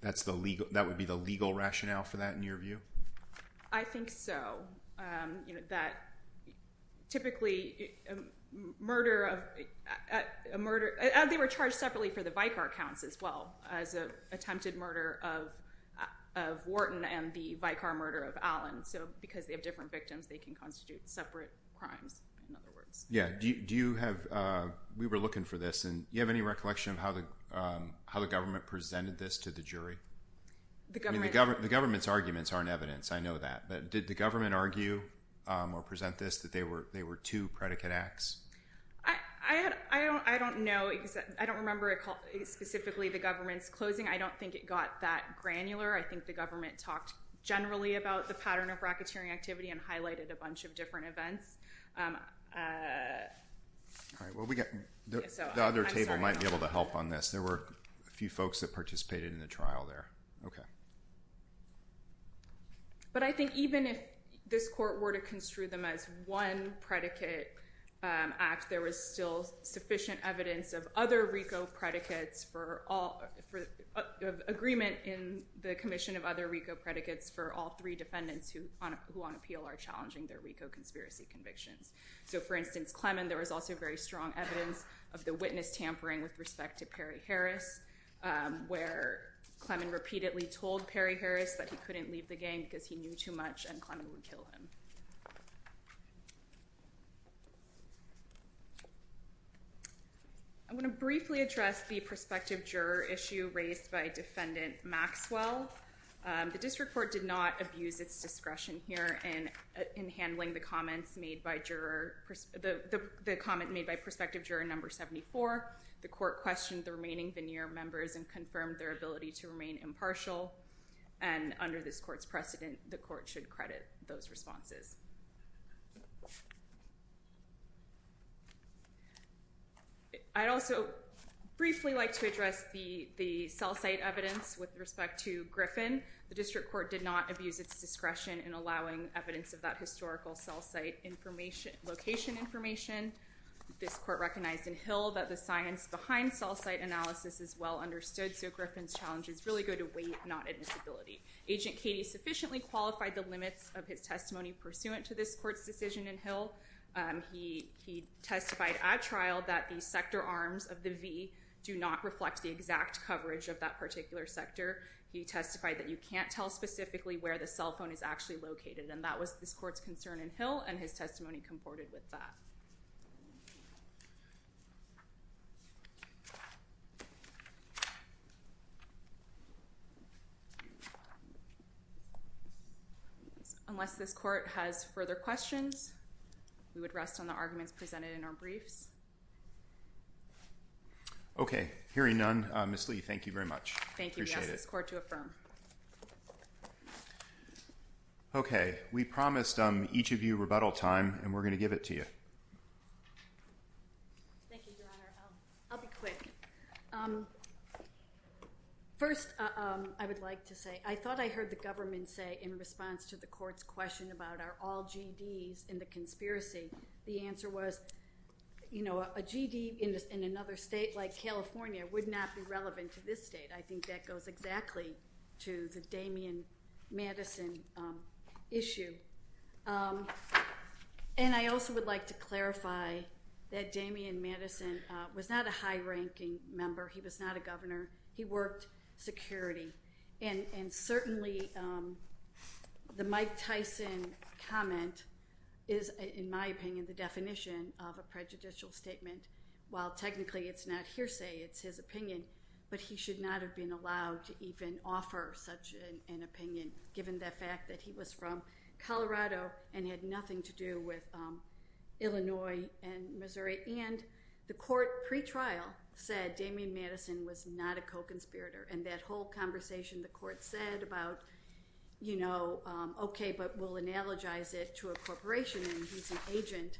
That would be the legal rationale for that in your view? I think so. That typically a murder... They were charged separately for the Vicar counts as well as an attempted murder of Wharton and the Vicar murder of Allen. So because they have different victims, they can constitute separate crimes, in other words. Yeah. Do you have... We were looking for this and you have any recollection of how the government presented this to the jury? The government's arguments aren't evidence. I know that. But did the government argue or present this that they were two predicate acts? I don't know. I don't remember specifically the government's closing. I don't think it got that granular. I think the government talked generally about the pattern of racketeering activity and highlighted a bunch of different events. The other table might be able to help on this. There were a few folks that participated in the trial there. Okay. But I think even if this court were to construe them as one predicate, there was still sufficient evidence of other RICO predicates for all... Agreement in the commission of other RICO predicates for all three defendants who on appeal are challenging their RICO conspiracy convictions. So for instance, Clemon, there was also very strong evidence of the witness tampering with respect to Perry Harris, where Clemon repeatedly told Perry Harris that he couldn't leave the gang because he knew too much and Clemon would kill him. I'm going to briefly address the prospective juror issue raised by Defendant Maxwell. The district court did not abuse its discretion here in handling the comments made by juror... The comment made by prospective juror number 74. The court questioned the remaining veneer members and confirmed their ability to remain impartial. And under this court's precedent, the court should credit those responses. I'd also briefly like to address the cell site evidence with respect to Griffin. The district court did not abuse its discretion in allowing evidence of that historical cell site information, location information. This court recognized in Hill that the science behind cell site analysis is well understood. So Griffin's challenges really go to weight, not admissibility. Agent Katie sufficiently qualified the limits of his testimony pursuant to this court's decision in Hill. He testified at trial that the sector arms of the V do not reflect the exact coverage of that particular sector. He testified that you can't tell specifically where the cell phone is actually located. And that was this court's concern in Hill and his testimony comported with that. Unless this court has further questions. We would rest on the arguments presented in our briefs. Okay. Hearing none, Ms. Lee, thank you very much. Thank you. Appreciate it. We ask this court to affirm. Okay. We promised each of you rebuttal time and we're going to give it to you. Thank you, Your Honor. I'll be quick. First, I would like to say I thought I heard the government say in response to the court's question about are all GDs in the conspiracy. The answer was, you know, a GD in another state like California would not be relevant to this state. I think that goes exactly to the Damian Madison issue. And I also would like to clarify that Damian Madison was not a high ranking member. He was not a governor. He worked security. And certainly the Mike Tyson comment is, in my opinion, the definition of a prejudicial statement. While technically it's not hearsay, it's his opinion. But he should not have been allowed to even offer such an opinion, given the fact that he was from Colorado and had nothing to do with Illinois and Missouri. And the court pretrial said Damian Madison was not a co-conspirator. And that whole conversation the court said about, you know, OK, but we'll analogize it to a corporation and he's an agent,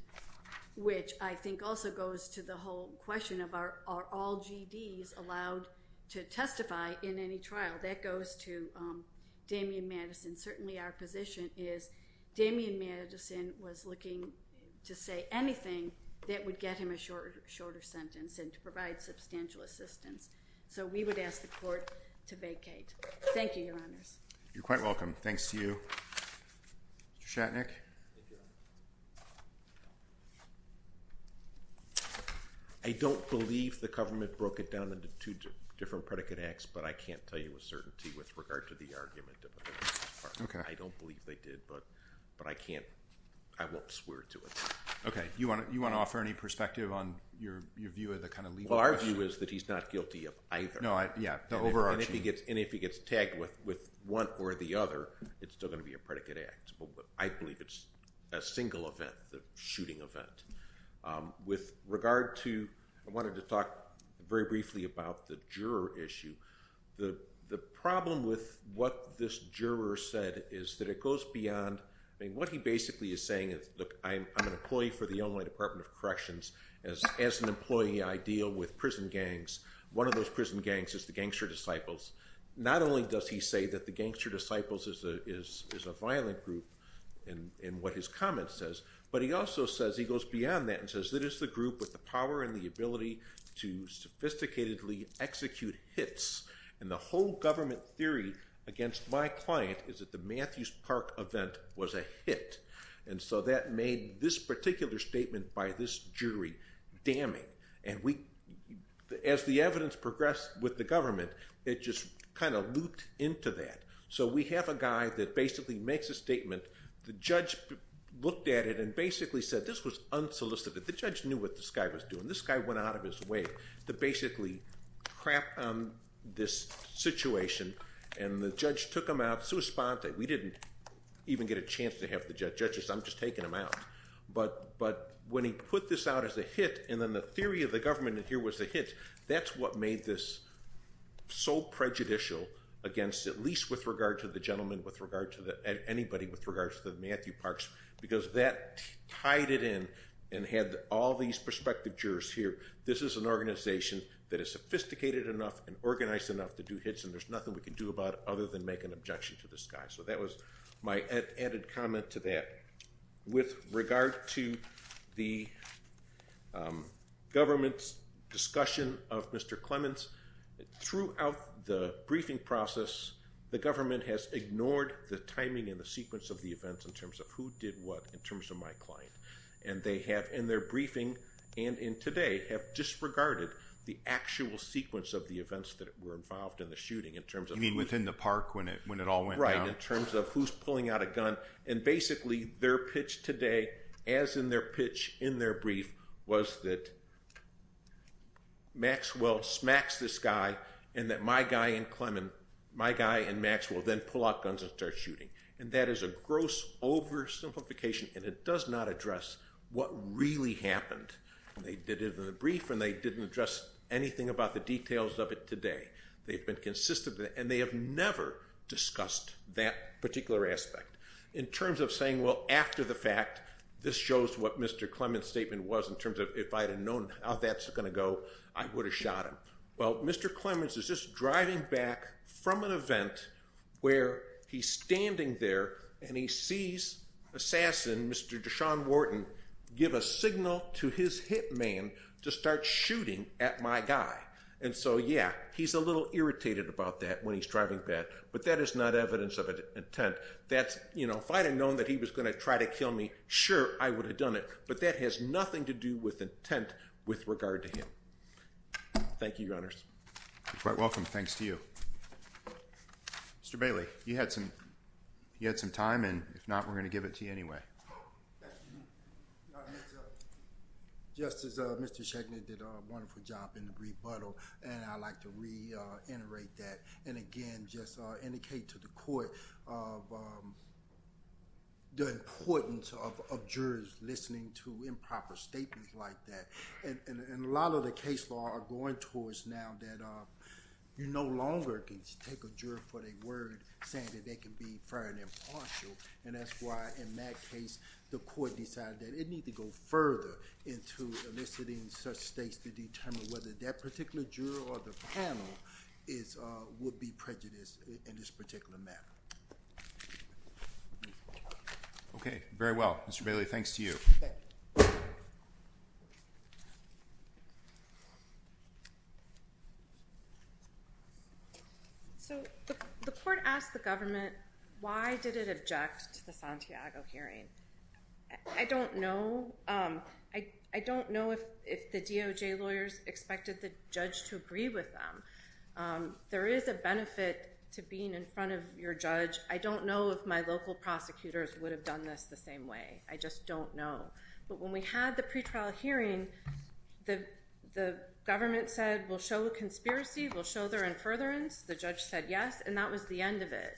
which I think also goes to the whole question of are all GDs allowed to testify in any trial? That goes to Damian Madison. Certainly our position is Damian Madison was looking to say anything that would get him a shorter sentence and to provide substantial assistance. So we would ask the court to vacate. Thank you, Your Honors. You're quite welcome. Thanks to you, Mr. Shatnick. I don't believe the government broke it down into two different predicate acts, but I can't tell you with certainty with regard to the argument. I don't believe they did, but I can't. I won't swear to it. OK, you want to offer any perspective on your view of the kind of legal question? Our view is that he's not guilty of either. No, yeah, the overarching. And if he gets tagged with one or the other, it's still going to be a predicate act. I believe it's a single event, the shooting event. With regard to, I wanted to talk very briefly about the juror issue. The problem with what this juror said is that it goes beyond, I mean, what he basically is saying is, look, I'm an employee for the Illinois Department of Corrections. As an employee, I deal with prison gangs. One of those prison gangs is the Gangster Disciples. Not only does he say that the Gangster Disciples is a violent group in what his comment says, but he also says, he goes beyond that and says, that is the group with the power and the ability to sophisticatedly execute hits. And the whole government theory against my client is that the Matthews Park event was a hit. And so that made this particular statement by this jury damning. And as the evidence progressed with the government, it just kind of looped into that. So we have a guy that basically makes a statement. The judge looked at it and basically said, this was unsolicited. The judge knew what this guy was doing. This guy went out of his way to basically crap on this situation. And the judge took him out, sui sponte. We didn't even get a chance to have the judges. I'm just taking him out. But when he put this out as a hit, and then the theory of the government here was a hit, that's what made this so prejudicial against, at least with regard to the gentleman, with regard to anybody, with regard to the Matthew Parks. Because that tied it in and had all these prospective jurors here. This is an organization that is sophisticated enough and organized enough to do hits. And there's nothing we can do about it other than make an objection to this guy. That was my added comment to that. With regard to the government's discussion of Mr. Clements, throughout the briefing process, the government has ignored the timing and the sequence of the events in terms of who did what in terms of my client. And they have, in their briefing and in today, have disregarded the actual sequence of the events that were involved in the shooting in terms of- Within the park when it all went down. Right, in terms of who's pulling out a gun. And basically, their pitch today, as in their pitch in their brief, was that Maxwell smacks this guy and that my guy and Maxwell then pull out guns and start shooting. And that is a gross oversimplification and it does not address what really happened. They did it in the brief and they didn't address anything about the details of it today. They've been consistent and they have never discussed that particular aspect. In terms of saying, well, after the fact, this shows what Mr. Clements' statement was in terms of if I had known how that's going to go, I would have shot him. Well, Mr. Clements is just driving back from an event where he's standing there and he sees assassin, Mr. Deshaun Wharton, give a signal to his hitman to start shooting at my guy. And so, yeah, he's a little irritated about that when he's driving back, but that is not evidence of intent. That's, you know, if I'd have known that he was going to try to kill me, sure, I would have done it, but that has nothing to do with intent with regard to him. Thank you, Your Honors. You're quite welcome. Thanks to you. Mr. Bailey, you had some time and if not, we're going to give it to you anyway. Thank you. Justice, Mr. Schechner did a wonderful job in the brief model and I'd like to reiterate that and again just indicate to the court of the importance of jurors listening to improper statements like that. And a lot of the case law are going towards now that you no longer can take a juror for their saying that they can be fair and impartial and that's why in that case the court decided that it need to go further into eliciting such states to determine whether that particular juror or the panel would be prejudiced in this particular matter. Okay. Very well. Mr. Bailey, thanks to you. Thank you. So the court asked the government, why did it object to the Santiago hearing? I don't know. I don't know if the DOJ lawyers expected the judge to agree with them. There is a benefit to being in front of your judge. I don't know if my local prosecutors would have done this the same way. I just don't know. But when we had the pretrial hearing, the government said we'll show a conspiracy, we'll show their in furtherance. The judge said yes and that was the end of it.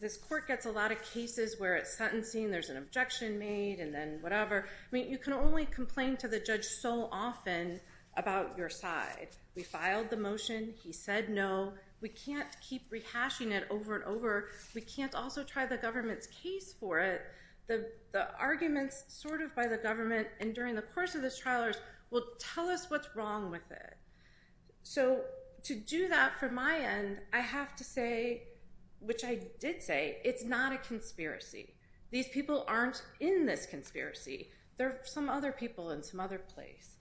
This court gets a lot of cases where it's sentencing, there's an objection made and then whatever. I mean you can only complain to the judge so often about your side. We filed the motion, he said no. We can't keep rehashing it over and over. We can't also try the government's case for it. The arguments sort of by the government and during the course of this trial will tell us what's wrong with it. So to do that from my end, I have to say, which I did say, it's not a conspiracy. These people aren't in this conspiracy. There are some other people in some other place.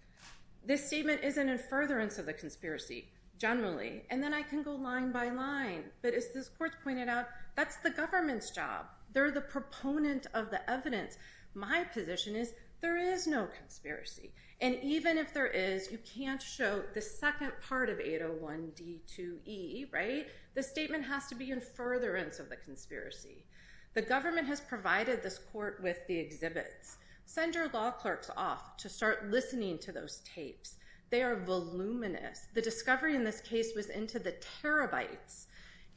This statement is an in furtherance of the conspiracy generally and then I can go line by line. But as this court pointed out, that's the government's job. They're the proponent of the evidence. My position is there is no conspiracy and even if there is, you can't show the second part of 801 D2E, right? The statement has to be in furtherance of the conspiracy. The government has provided this court with the exhibits. Send your law clerks off to start listening to those tapes. They are voluminous. The discovery in this case was into the terabytes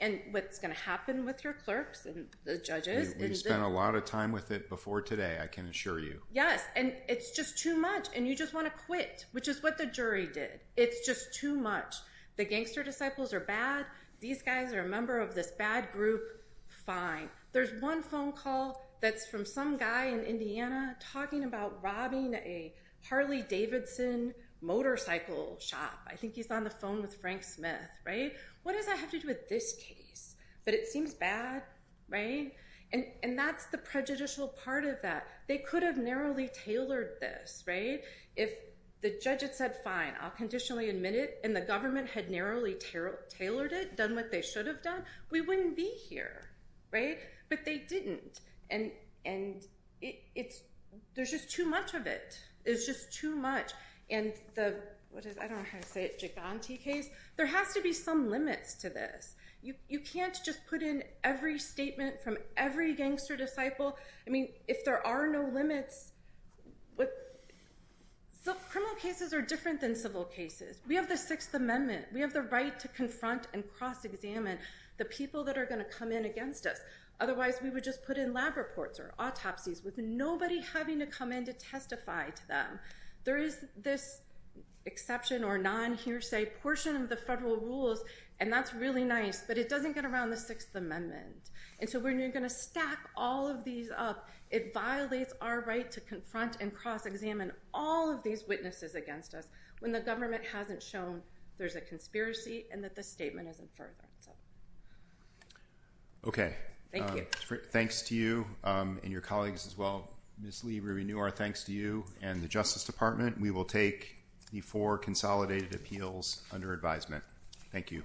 and what's going to happen with your clerks and the judges. We spent a lot of time with it before today, I can assure you. Yes, and it's just too much and you just want to quit, which is what the jury did. It's just too much. The gangster disciples are bad. These guys are a member of this bad group. Fine. There's one phone call that's from some guy in Indiana talking about robbing a Harley Davidson motorcycle shop. I think he's on the phone with Frank Smith, right? What does that have to do with this case? But it seems bad, right? And that's the prejudicial part of that. They could have narrowly tailored this, right? If the judge had said, fine, I'll conditionally admit it and the government had narrowly tailored it, done what they should have done, we wouldn't be here, right? But they didn't. And there's just too much of it. It's just too much. And the, what is it? I don't know how to say it, Giganti case. There has to be some limits to this. You can't just put in every statement from every gangster disciple. I mean, if there are no limits. Criminal cases are different than civil cases. We have the Sixth Amendment. We have the right to confront and cross-examine the people that are going to come in against us. Otherwise, we would just put in lab reports or autopsies with nobody having to come in to testify to them. There is this exception or non-hearsay portion of the federal rules. And that's really nice, but it doesn't get around the Sixth Amendment. And so when you're going to stack all of these up, it violates our right to confront and cross-examine all of these witnesses against us when the government hasn't shown there's a conspiracy and that the statement is inferred. Okay. Thanks to you and your colleagues as well. Ms. Lee, we renew our thanks to you and the Justice Department. We will take the four consolidated appeals under advisement. Thank you.